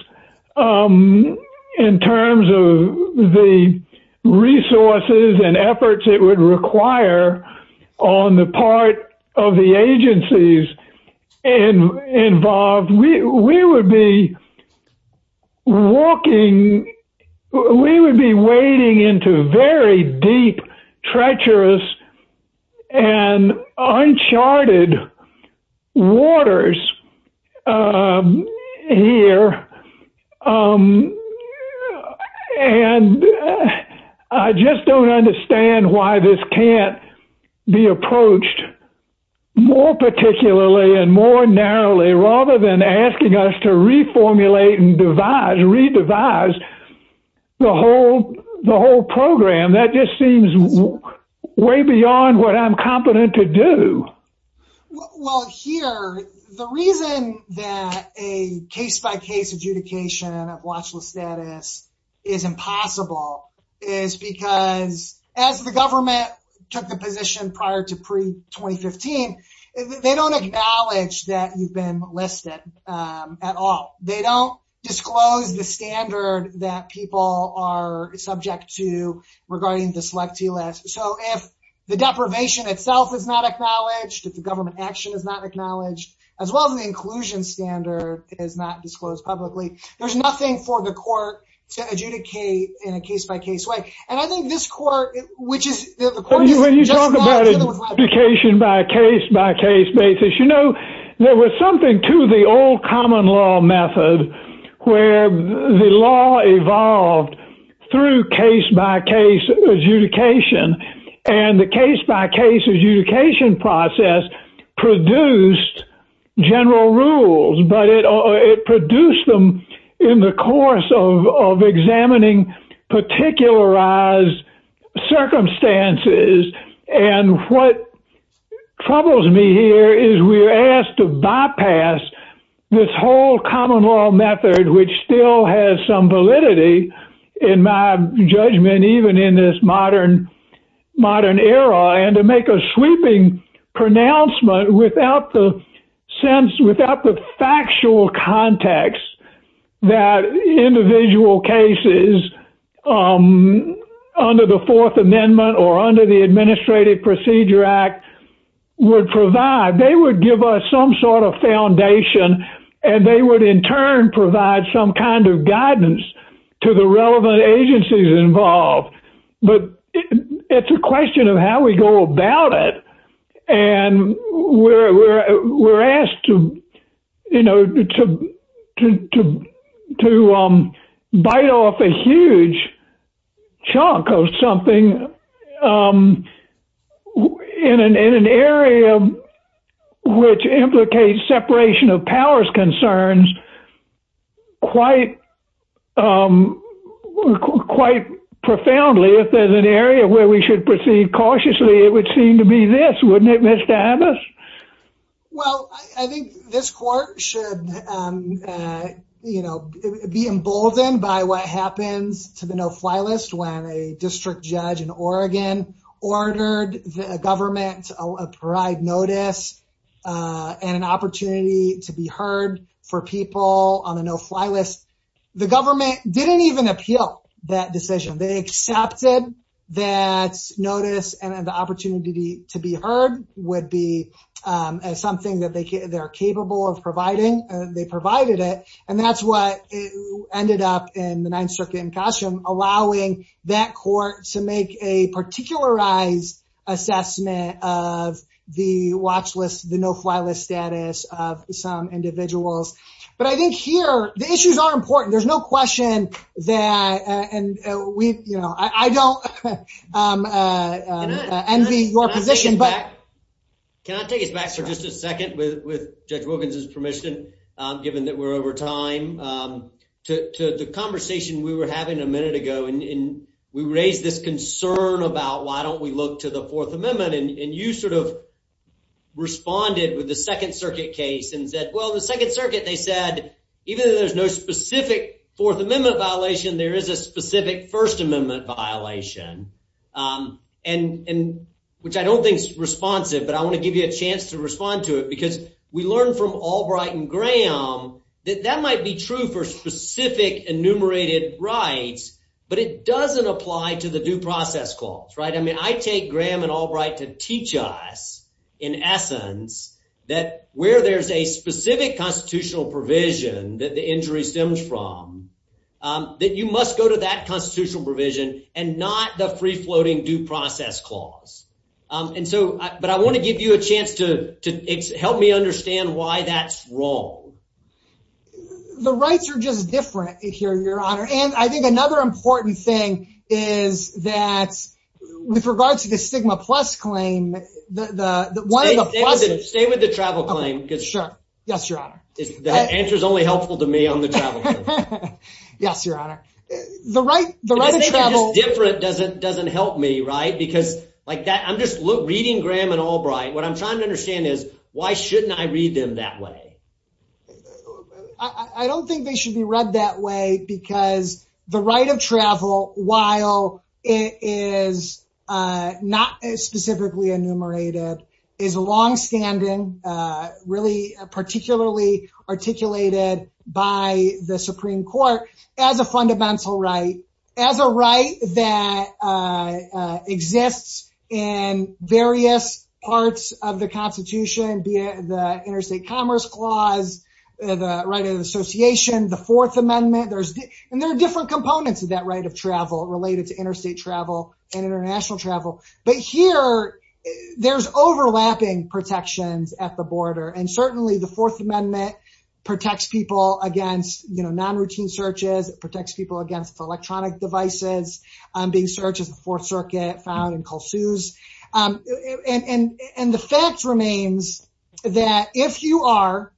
in terms of the resources and efforts it would require on the part of the agencies involved, we would be wading into very deep, treacherous and uncharted waters here. And I just don't understand why this can't be approached more particularly and more narrowly rather than asking us to reformulate and revise the whole program. That just seems way beyond what I'm competent to do. Well, here, the reason that a case-by-case adjudication of watchful status is impossible is because, as the government took the position prior to pre-2015, they don't acknowledge that you've been listed at all. They don't disclose the standard that people are subject to regarding the selectee list. So, if the deprivation itself is not acknowledged, if the government action is not acknowledged, as well as the inclusion standard is not disclosed publicly, there's nothing for the court to adjudicate in a case-by-case way. And I think this court, which is... When you talk about adjudication by case-by-case basis, you know, there was something to the old and the case-by-case adjudication process produced general rules. But it produced them in the course of examining particularized circumstances. And what troubles me here is we're asked to bypass this whole common law method, which still has some validity, in my judgment, even in this modern era, and to make a sweeping pronouncement without the factual context that individual cases under the Fourth Amendment or under the Administrative Procedure Act would provide. They would give us some sort of foundation, and they would, in turn, provide some kind of guidance to the relevant agencies involved. But it's a question of how we go about it. And we're asked to, you know, to bite off a huge chunk of something in an area which implicates separation of powers concerns quite profoundly. If there's an area where we should proceed cautiously, it would seem to be this, wouldn't it, Mr. Abbas? Well, I think this court should, you know, be emboldened by what happens to the no-fly list when a district judge in Oregon ordered the government to provide notice and an opportunity to be heard for people on a no-fly list. The government didn't even appeal that decision. They accepted that notice and the opportunity to be heard would be as something that they're capable of providing, and they provided it. And that's what ended up in the nine-circuit incursion, allowing that court to make a particularized assessment of the watch list, the no-fly list status of some individuals. But I think here, the issues are important. There's no question that, and we, you know, I don't envy your position, but... Can I take it back for just a second with Judge Wilkins' permission, given that we're over time, to the conversation we were having a minute ago, and we raised this concern about why don't we look to the Fourth Amendment, and you sort of responded with the Second Circuit case and said, well, the Second Circuit, they said, even though there's no specific Fourth Amendment violation, there is a specific First Amendment violation, which I don't think's responsive, but I want to give you a chance to respond to it, because we learned from Albright and Graham that that might be true for specific enumerated rights, but it doesn't apply to the due process clause, right? I mean, I take Graham and Albright to teach us, in essence, that where there's a specific constitutional provision that the injury stems from, that you must go to that constitutional provision and not the free-floating due process clause. And so, but I want to give you a chance to help me understand why that's wrong. The rights are just different, Your Honor, and I think another important thing is that, with regards to the stigma plus claim, the one of the... Stay with the travel claim, because... Sure, yes, Your Honor. The answer's only helpful to me on the travel claim. Yes, Your Honor. The right of travel... I'm just reading Graham and Albright. What I'm trying to understand is, why shouldn't I read them that way? I don't think they should be read that way, because the right of travel, while it is not specifically enumerated, is longstanding, really particularly articulated by the Supreme Court as a fundamental right, as a right that exists in various parts of the Constitution, be it the Interstate Commerce Clause, the right of association, the Fourth Amendment, there's... And there are different components of that right of travel, related to interstate travel and international travel. But here, there's overlapping protections at the border, and certainly the Fourth Amendment protects people against non-routine searches, it protects people against electronic devices, being searched at the Fourth Circuit, found in cold shoes. And the fact remains that if you are...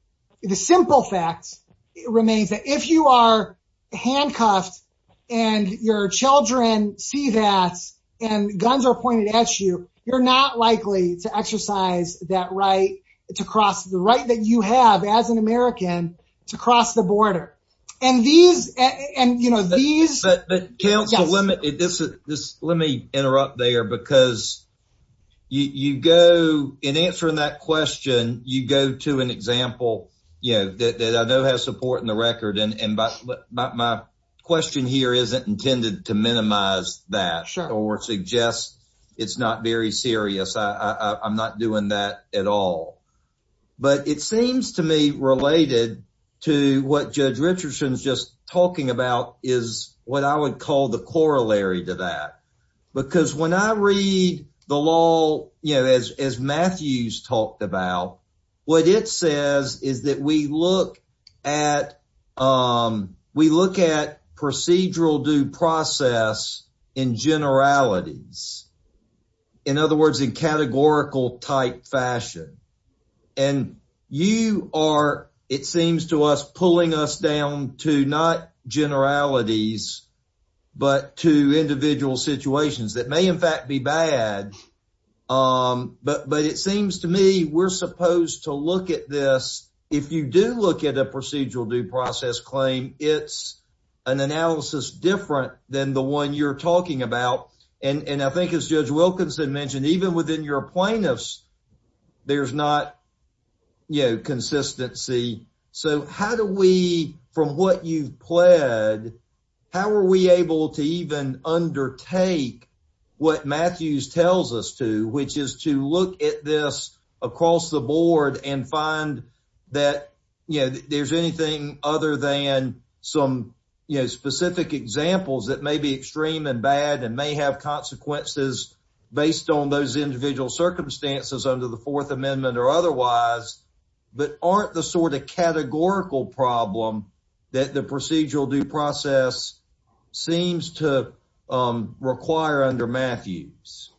The simple fact remains that if you are handcuffed, and your children see that, and guns are pointed at you, you're not likely to exercise that right to cross... The right that you have as an American to cross the border. And these, and these... But counsel, let me interrupt there, because you go, in answering that question, you go to an example that I know has support in the record, and my question here isn't intended to minimize that, or suggest it's not very serious, I'm not doing that at all. But it seems to me related to what Judge Richardson's just talking about, is what I would call the corollary to that. Because when I read the law, as Matthews talked about, what it says is that we look at... We look at procedural due process in generalities. In other words, in categorical type fashion. And you are, it seems to us, pulling us down to not generalities, but to individual situations that may in fact be bad. But it seems to me we're supposed to look at this... If you do look at a procedural due process claim, it's an analysis different than the one you're talking about. And I think as Judge Wilkinson mentioned, even within your plaintiffs, there's not consistency. So how do we, from what you've pled, how are we able to even undertake what Matthews tells us to, which is to look at this across the board, and find that there's anything other than some specific examples that may be extreme and bad, and may have consequences based on those individual circumstances under the Fourth Amendment or otherwise, but aren't the sort of categorical problem that the procedural due process seems to require under Matthews?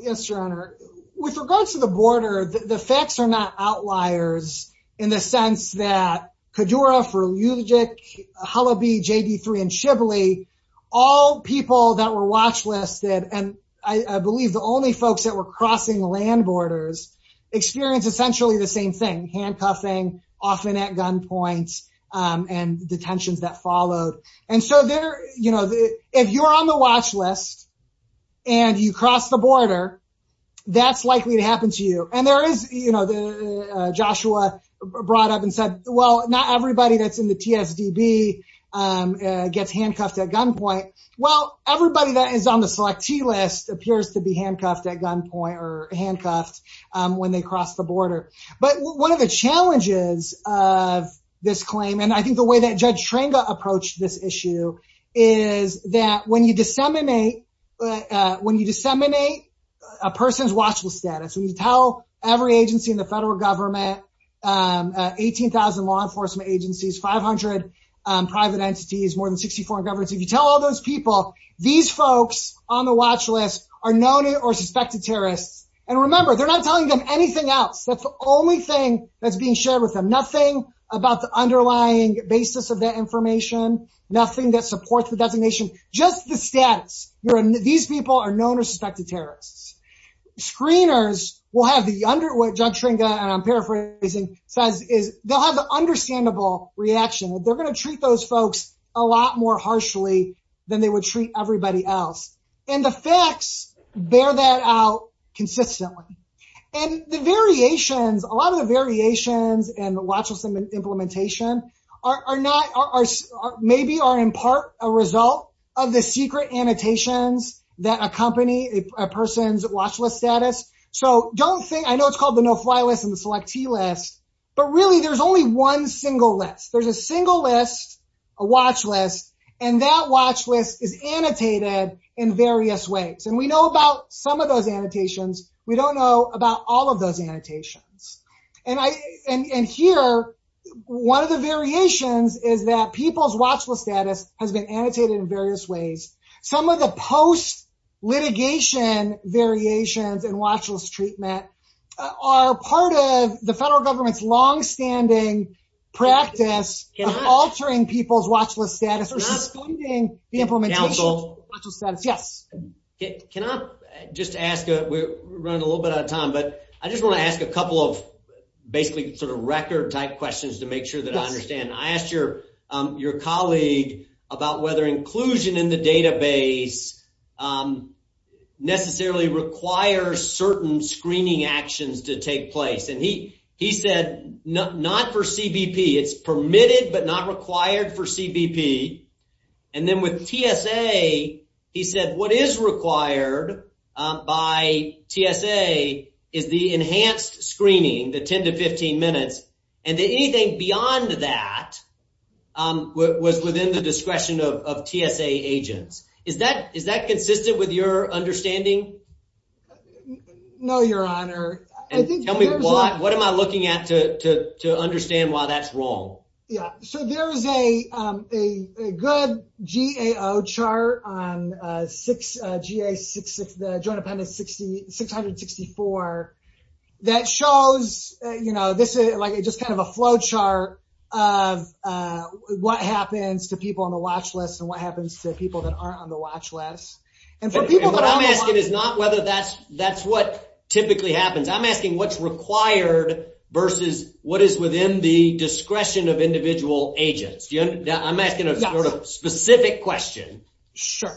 Yes, Your Honor. With regards to the border, the facts are not outliers in the sense that Kedoura, Freudigick, Holoby, JD3, and Shibley, all people that were watch-listed, and I believe the only folks that were crossing land borders, experienced essentially the same thing, handcuffing, often at gunpoint, and detentions that followed. And so if you're on the watch list and you cross the border, that's likely to happen to you. And there is, Joshua brought up and said, well, not everybody that's in the PSDB gets handcuffed at gunpoint. Well, everybody that is on the selectee list appears to be handcuffed at gunpoint or handcuffed when they cross the border. But one of the challenges of this claim, and I think the way that Judge Trenga approached this issue, is that when you disseminate a person's watch-list status, you tell every agency in the federal government, 18,000 law enforcement agencies, 500 private entities, more than 60 foreign governments, if you tell all those people, these folks on the watch-list are known or suspected terrorists. And remember, they're not telling them anything else. That's the only thing that's being shared with them. Nothing about the underlying basis of that information, nothing that supports the designation, just the status. These people are known or suspected terrorists. Screeners will have the, what Judge Trenga, I'm paraphrasing, says is they'll have an understandable reaction. They're going to treat those folks a lot more harshly than they would treat everybody else. And the facts bear that out consistently. And the variations, a lot of the variations in the watch-list implementation are not, maybe are in part a result of the secret annotations that accompany a person's watch-list status. So don't think, I know it's called the no-fly list and the selectee list, but really there's only one single list. There's a single list, a watch-list, and that watch-list is annotated in various ways. And we know about some of those annotations. We don't know about all of those annotations. And here, one of the variations is that people's watch-list status has been annotated in various ways. Some of the post-litigation variations in watch-list treatment are part of the federal government's long-standing practice of altering people's watch-list status, or excluding the implementation of watch-list status. Yeah. Can I just ask, we're running a little bit out of time, but I just want to ask a couple of basically sort of record-type questions to make sure that I understand. I asked your colleague about whether inclusion in the database necessarily requires certain screening actions to take place. And he said, not for CBP. It's permitted, but not required for CBP. And then with TSA, he said, what is required by TSA is the enhanced screening, the 10 to 15 minutes. And anything beyond that was within the discretion of TSA agents. Is that consistent with your understanding? No, your honor. What am I looking at to understand why that's wrong? Yeah. So there is a good GAO chart on GA66, the Joint Appendix 664, that shows, you know, this is like just kind of a flow chart what happens to people on the watch list and what happens to people that aren't on the watch list. And what I'm asking is not whether that's what typically happens. I'm asking what's required versus what is within the discretion of individual agents. I'm asking a sort of specific question. Sure.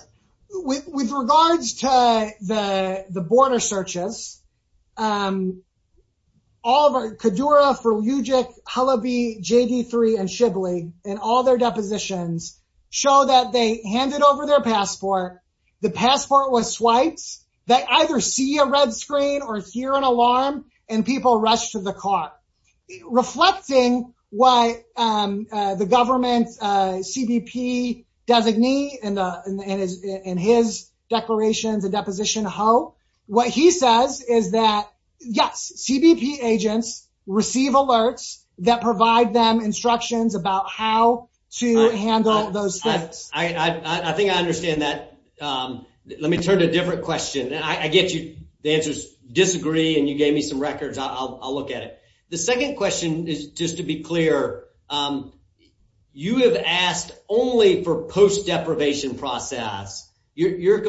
With regards to the border searches, all of our, KEDURA for UGIS, Hullabee, JV3, and Shibley, and all their depositions show that they handed over their passport. The passport was swiped. They either see a red screen or hear an alarm and people rush to the court. Reflecting what the government CBP designee and his declaration, the deposition how, what he says is that, yes, CBP agents receive alerts that provide them instructions about how to handle those things. I think I understand that. Let me turn to a different question. And I get you. The answers disagree and you gave me some records. I'll look at it. The second question is just to be clear. You have asked only for post deprivation process. Your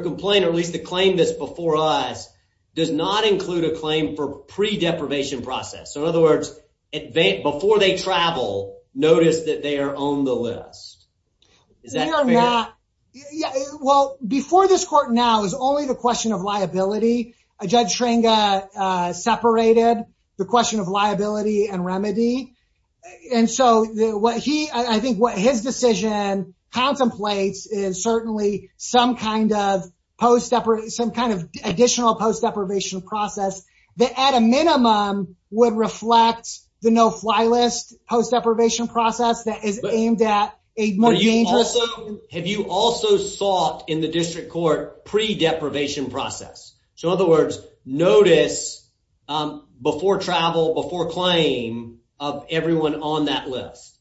complaint, at least the claim that's before us, does not include a claim for pre deprivation process. In other words, before they travel, notice that they are on the list. Well, before this court now is only the question of liability. Judge Schringer separated the question of liability and remedy. And so what he, I think what his decision contemplates is certainly some kind of post deprivation, some kind of additional post deprivation process that at a minimum would reflect the no fly list post deprivation process that is aimed at a more dangerous. Have you also sought in the district court pre deprivation process? So in other words, notice before travel, before claim of everyone on that list.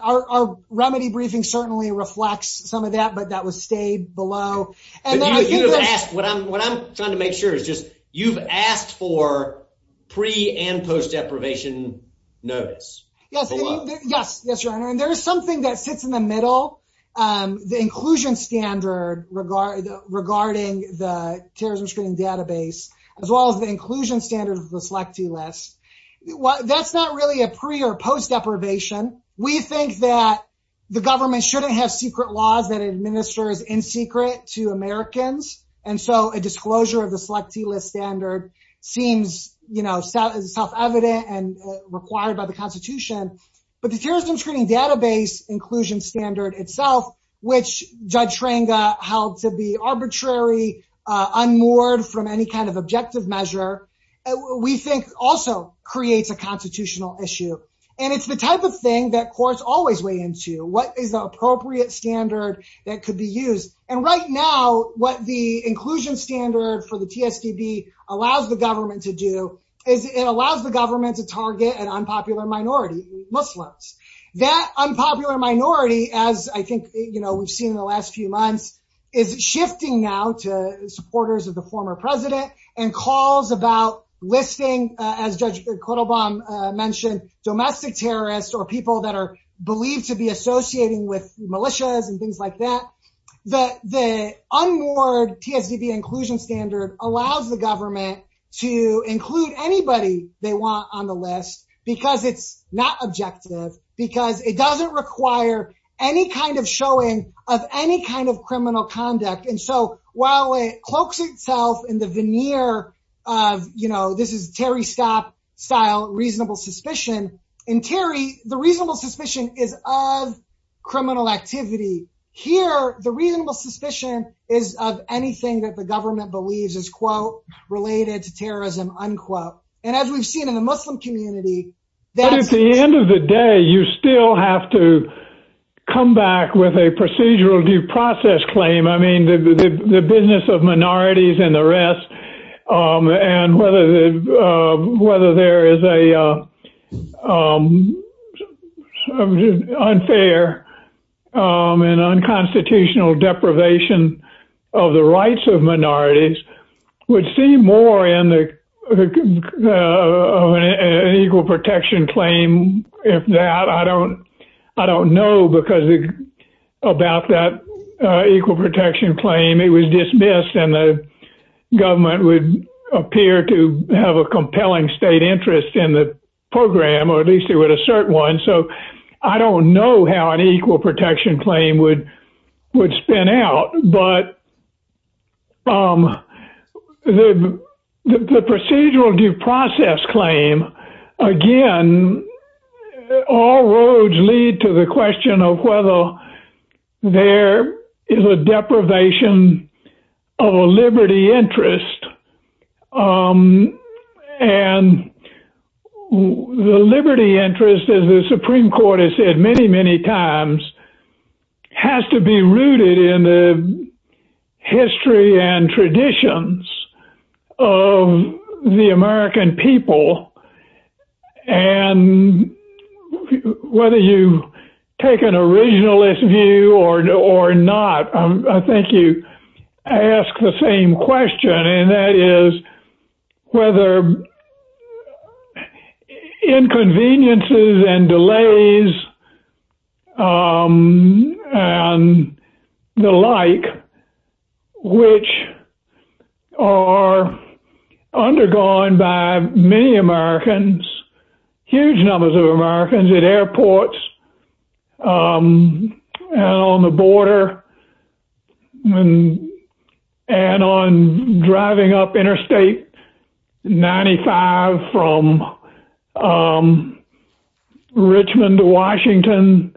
Our remedy briefing certainly reflects some of that, but that was stayed below. What I'm trying to make sure is just you've asked for pre and post deprivation notice. Yes, yes, your honor. And there is something that sits in the middle. The inclusion standard regarding the terrorism screening database, as well as the inclusion standards reflect to less. That's not really a pre or post deprivation. We think that the government shouldn't have secret laws that administers in secret to Americans. And so a disclosure of the selectee list standard seems self-evident and required by the constitution. But the terrorism screening database inclusion standard itself, which Judge Schrenger held to be arbitrary, unmoored from any kind of objective measure, we think also creates a constitutional issue. And it's the type of thing that courts always weigh into. What is the appropriate standard that could be used? And right now, what the inclusion standard for the TSDB allows the government to do is it allows the government to target an unpopular minority. That unpopular minority, as I think we've seen in the last few months, is shifting now to supporters of the former president and calls about listing, as Judge Clittlebaum mentioned, domestic terrorists or people that are believed to be associating with militias and things like that. The unmoored TSDB inclusion standard allows the government to include anybody they want on the list because it's not objective, because it doesn't require any kind of showing of any kind of criminal conduct. And so while it cloaks itself in the veneer of, you know, this is Terry Stott-style reasonable suspicion, in Terry, the reasonable suspicion is of criminal activity. Here, the reasonable suspicion is of anything that the government believes is, quote, related to terrorism, unquote. And as we've seen in the Muslim community, at the end of the day, you still have to come back with a procedural due process claim. I mean, the business of minorities and the rest, and whether there is a unfair and unconstitutional deprivation of the rights of minorities would seem more in the equal protection claim. If that, I don't know because about that equal protection claim, it was dismissed and the government would appear to have a compelling state interest in the program, or at least it would assert one. So I don't know how an equal protection claim would spin out, but the procedural due process claim, again, all roads lead to the question of whether there is a deprivation of a liberty interest. And the liberty interest, as the Supreme Court has said many, many times, has to be rooted in the history and traditions of the American people. And whether you take an originalist view or not, I think you ask the same question, and that is whether inconveniences and delays and the like, which are undergone by many Americans, huge numbers of Americans at airports and on the border from Richmond to Washington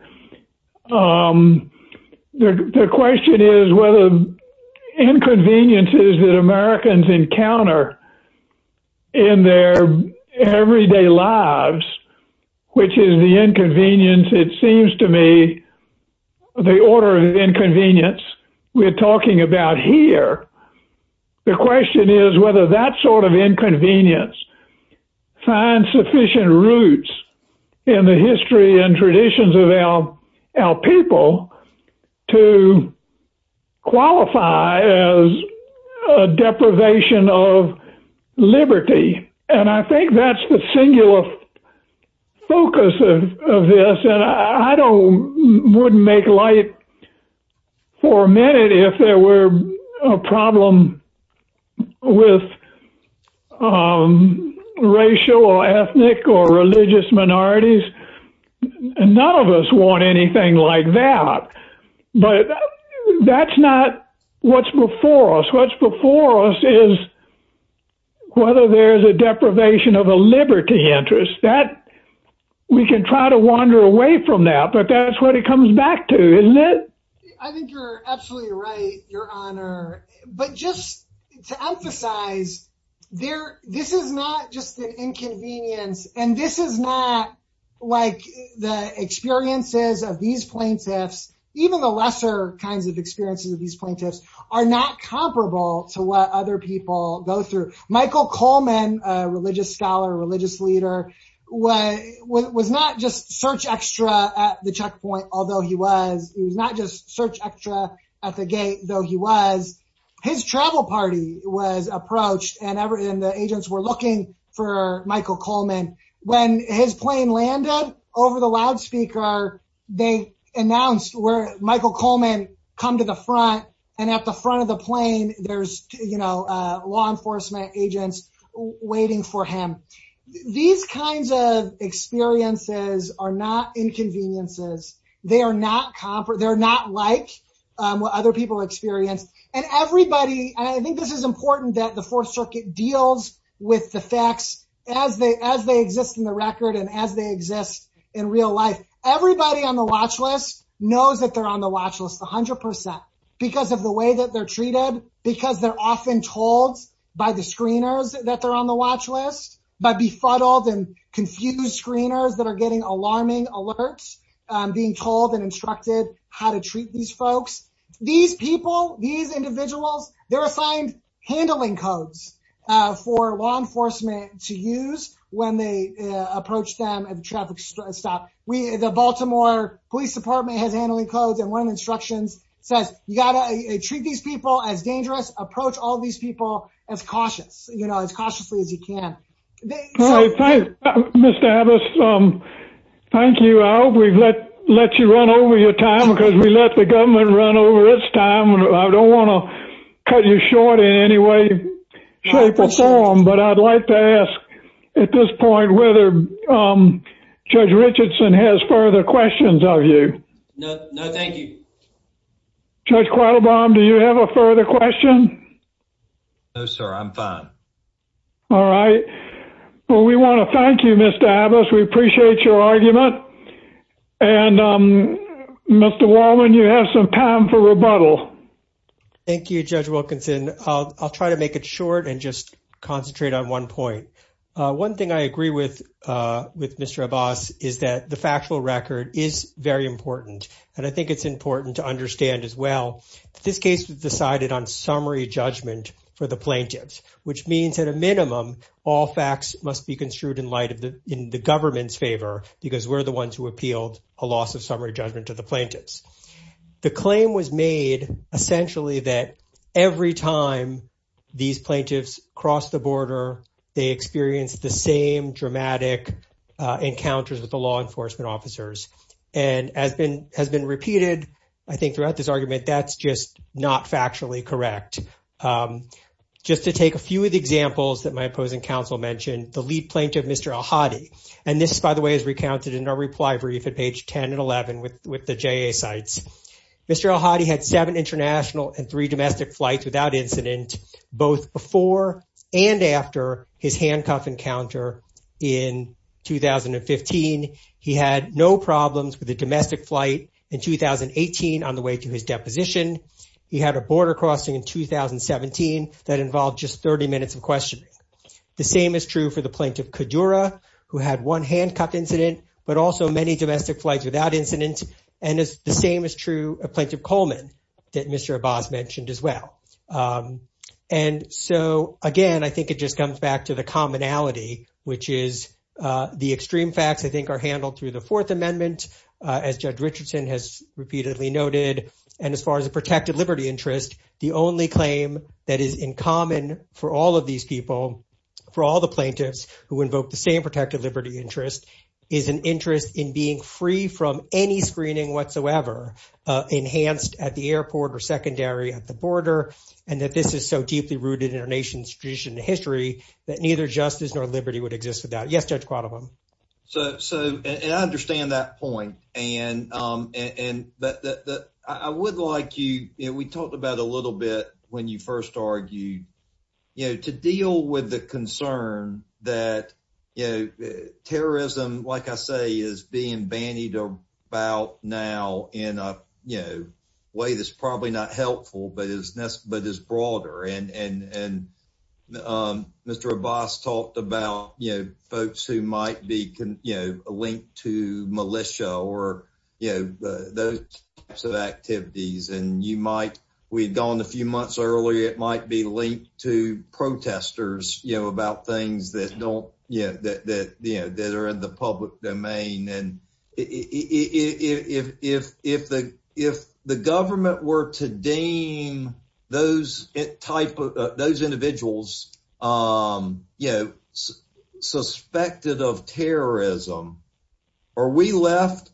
the question is whether inconveniences that Americans encounter in their everyday lives, which is the inconvenience, it seems to me, the order of inconvenience we're talking about here, the question is whether that sort of inconvenience finds sufficient roots in the history and traditions of our people to qualify as a deprivation of liberty. And I think that's the singular focus of this, and I wouldn't make light for a minute if there were a problem with racial or ethnic or religious minorities, and none of us want anything like that. But that's not what's before us. What's before us is whether there's a deprivation of a liberty interest. We can try to wander away from that, but that's what it comes back to, isn't it? I think you're absolutely right, Your Honor. But just to emphasize, this is not just an inconvenience, and this is not like the experiences of these plaintiffs, even the lesser kinds of experiences of these plaintiffs are not comparable to what other people go through. Michael Coleman, a religious scholar, a religious leader, was not just search extra at the checkpoint, although he was, he was not just search extra at the gate, though he was. His travel party was approached, and the agents were looking for Michael Coleman. When his plane landed over the loudspeaker, they announced where Michael Coleman come to the front, and at the front of the plane, there's law enforcement agents waiting for him. These kinds of experiences are not inconveniences. They're not like what other people experience. And everybody, I think this is important that the Fourth Circuit deals with the facts as they exist in the record and as they exist in real life. Everybody on the watch list knows that they're on the watch list, 100%, because of the way that they're treated, because they're often told by the screeners that they're on the watch list, by befuddled and confused screeners that are getting alarming alerts, being told and instructed how to treat these folks. These people, these individuals, they're assigned handling codes for law enforcement to use when they approach them at the traffic stop. The Baltimore Police Department has handling codes, and one of the instructions says, you got to treat these people as dangerous, approach all these people as cautious, you know, as cautiously as you can. Mr. Abbas, thank you. I hope we've let you run over your time, because we let the government run over its time. I don't want to cut you short in any way, shape, or form, but I'd like to ask at this point whether Judge Richardson has further questions of you. No, thank you. Judge Quattlebaum, do you have a further question? No, sir, I'm fine. All right. Well, we want to thank you, Mr. Abbas. We appreciate your argument. And Mr. Wallen, you have some time for rebuttal. Thank you, Judge Wilkinson. I'll try to make it short and just concentrate on one point. One thing I agree with Mr. Abbas is that the factual record is very important, and I think it's important to understand as well, this case was decided on summary judgment for the plaintiffs, which means at a minimum, all facts must be construed in light of the government's favor, because we're the ones who appealed a loss of summary judgment to the plaintiffs. The claim was made essentially that every time these plaintiffs cross the border, they experience the same dramatic encounters with the law enforcement officers. And as has been repeated, I think throughout this argument, that's just not factually correct. Just to take a few of the examples that my opposing counsel mentioned, the lead plaintiff, Mr. Al-Hadi, and this, by the way, is recounted in our reply brief at page 10 and 11 with the JA sites. Mr. Al-Hadi had seven international and three domestic flights without incident, both before and after his handcuff encounter in 2015. He had no problems with a domestic flight in 2018 on the way to his deposition. He had a border crossing in 2017 that involved just 30 minutes of questioning. The same is true for the plaintiff, Kudura, who had one handcuff incident, but also many domestic flights without incident. And the same is true of Plaintiff Coleman that Mr. Abbas mentioned as well. And so, again, I think it just comes back to the commonality, which is the extreme facts, I think, are handled through the Fourth Amendment, as Judge Richardson has repeatedly noted. And as far as the protected liberty interest, the only claim that is in common for all of these people, for all the plaintiffs who invoked the same protected liberty interest is an interest in being free from any screening whatsoever, enhanced at the airport or secondary at the border, and that this is so deeply rooted in our nation's tradition in history that neither justice nor liberty would exist without. Yes, Judge Qualamon. So, and I understand that point. And I would like you, we talked about a little bit when you first argued, you know, to deal with the concern that terrorism, like I say, is being bandied about now in a way that's probably not helpful, but is broader. And Mr. Abbas talked about, you know, folks who might be, you know, linked to militia or, you know, those types of activities. And you might, we had gone a few months earlier, it might be linked to protesters, you know, about things that don't, you know, that are in the public domain. And if the government were to deem those individuals, you know, suspected of terrorism, are we left,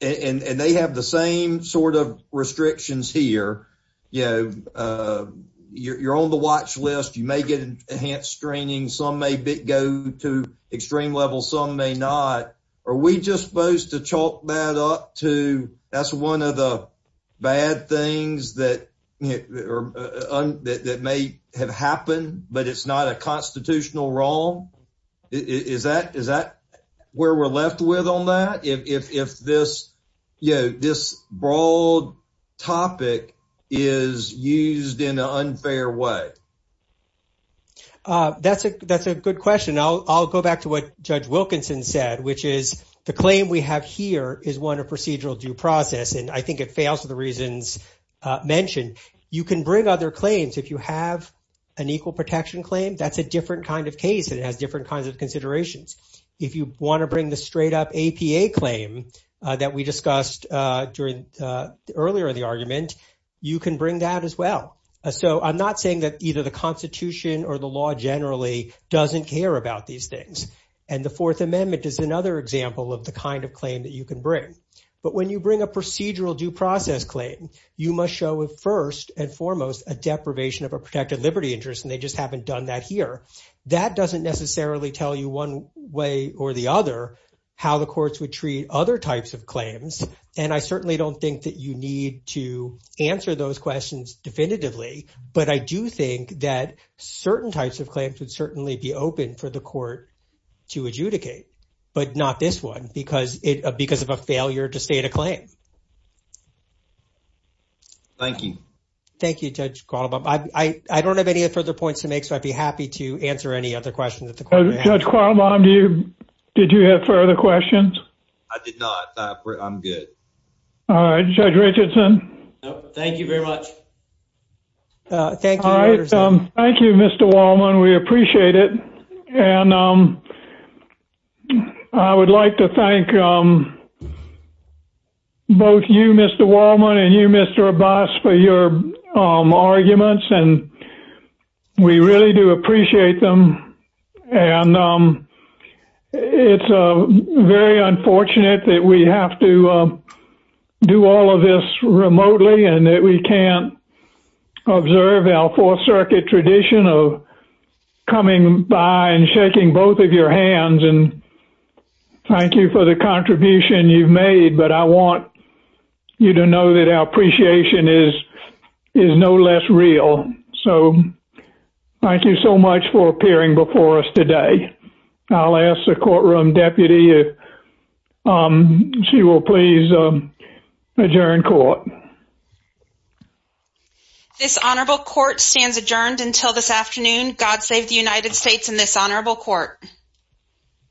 and they have the same sort of restrictions here, you know, you're on the watch list, you may get enhanced training, some may go to extreme levels, some may not. Are we just supposed to chalk that up to, that's one of the bad things that may have happened, but it's not a constitutional wrong? Is that where we're left with on that? If this, you know, this broad topic is used in an unfair way? That's a good question. I'll go back to what Judge Wilkinson said, which is the claim we have here is one of procedural due process, and I think it fails for the reasons mentioned. You can bring other claims if you have an equal protection claim, that's a different kind of case, and it has different kinds of considerations. If you want to bring the straight up APA claim that we discussed earlier in the argument, you can bring that as well. So I'm not saying that either the constitution or the law generally doesn't care about these things. And the Fourth Amendment is another example of the kind of claim that you can bring. But when you bring a procedural due process claim, you must show it first and foremost a deprivation of a protected liberty interest, and they just haven't done that here. That doesn't necessarily tell you one way or the other how the courts would treat other types of claims. And I certainly don't think that you need to answer those questions definitively, but I do think that certain types of claims would certainly be open for the court to adjudicate, but not this one, because of a failure to state a claim. Thank you. Thank you, Judge Karlbaum. I don't have any further points to make, so I'd be happy to answer any other questions that the court may have. Judge Karlbaum, did you have further questions? I did not. I'm good. All right, Judge Richardson. Thank you very much. All right. Thank you, Mr. Wallman. We appreciate it. And I would like to thank both you, Mr. Wallman, and you, Mr. Abbas, for your arguments, and we really do appreciate them. And it's very unfortunate that we have to do all of this remotely and that we can't observe our Fourth Circuit tradition of coming by and shaking both of your hands. And thank you for the contribution you've made, but I want you to know that our appreciation is no less real. So thank you so much for appearing before us today. I'll ask the courtroom deputy if she will please adjourn court. This honorable court stands adjourned until this afternoon. God save the United States and this honorable court.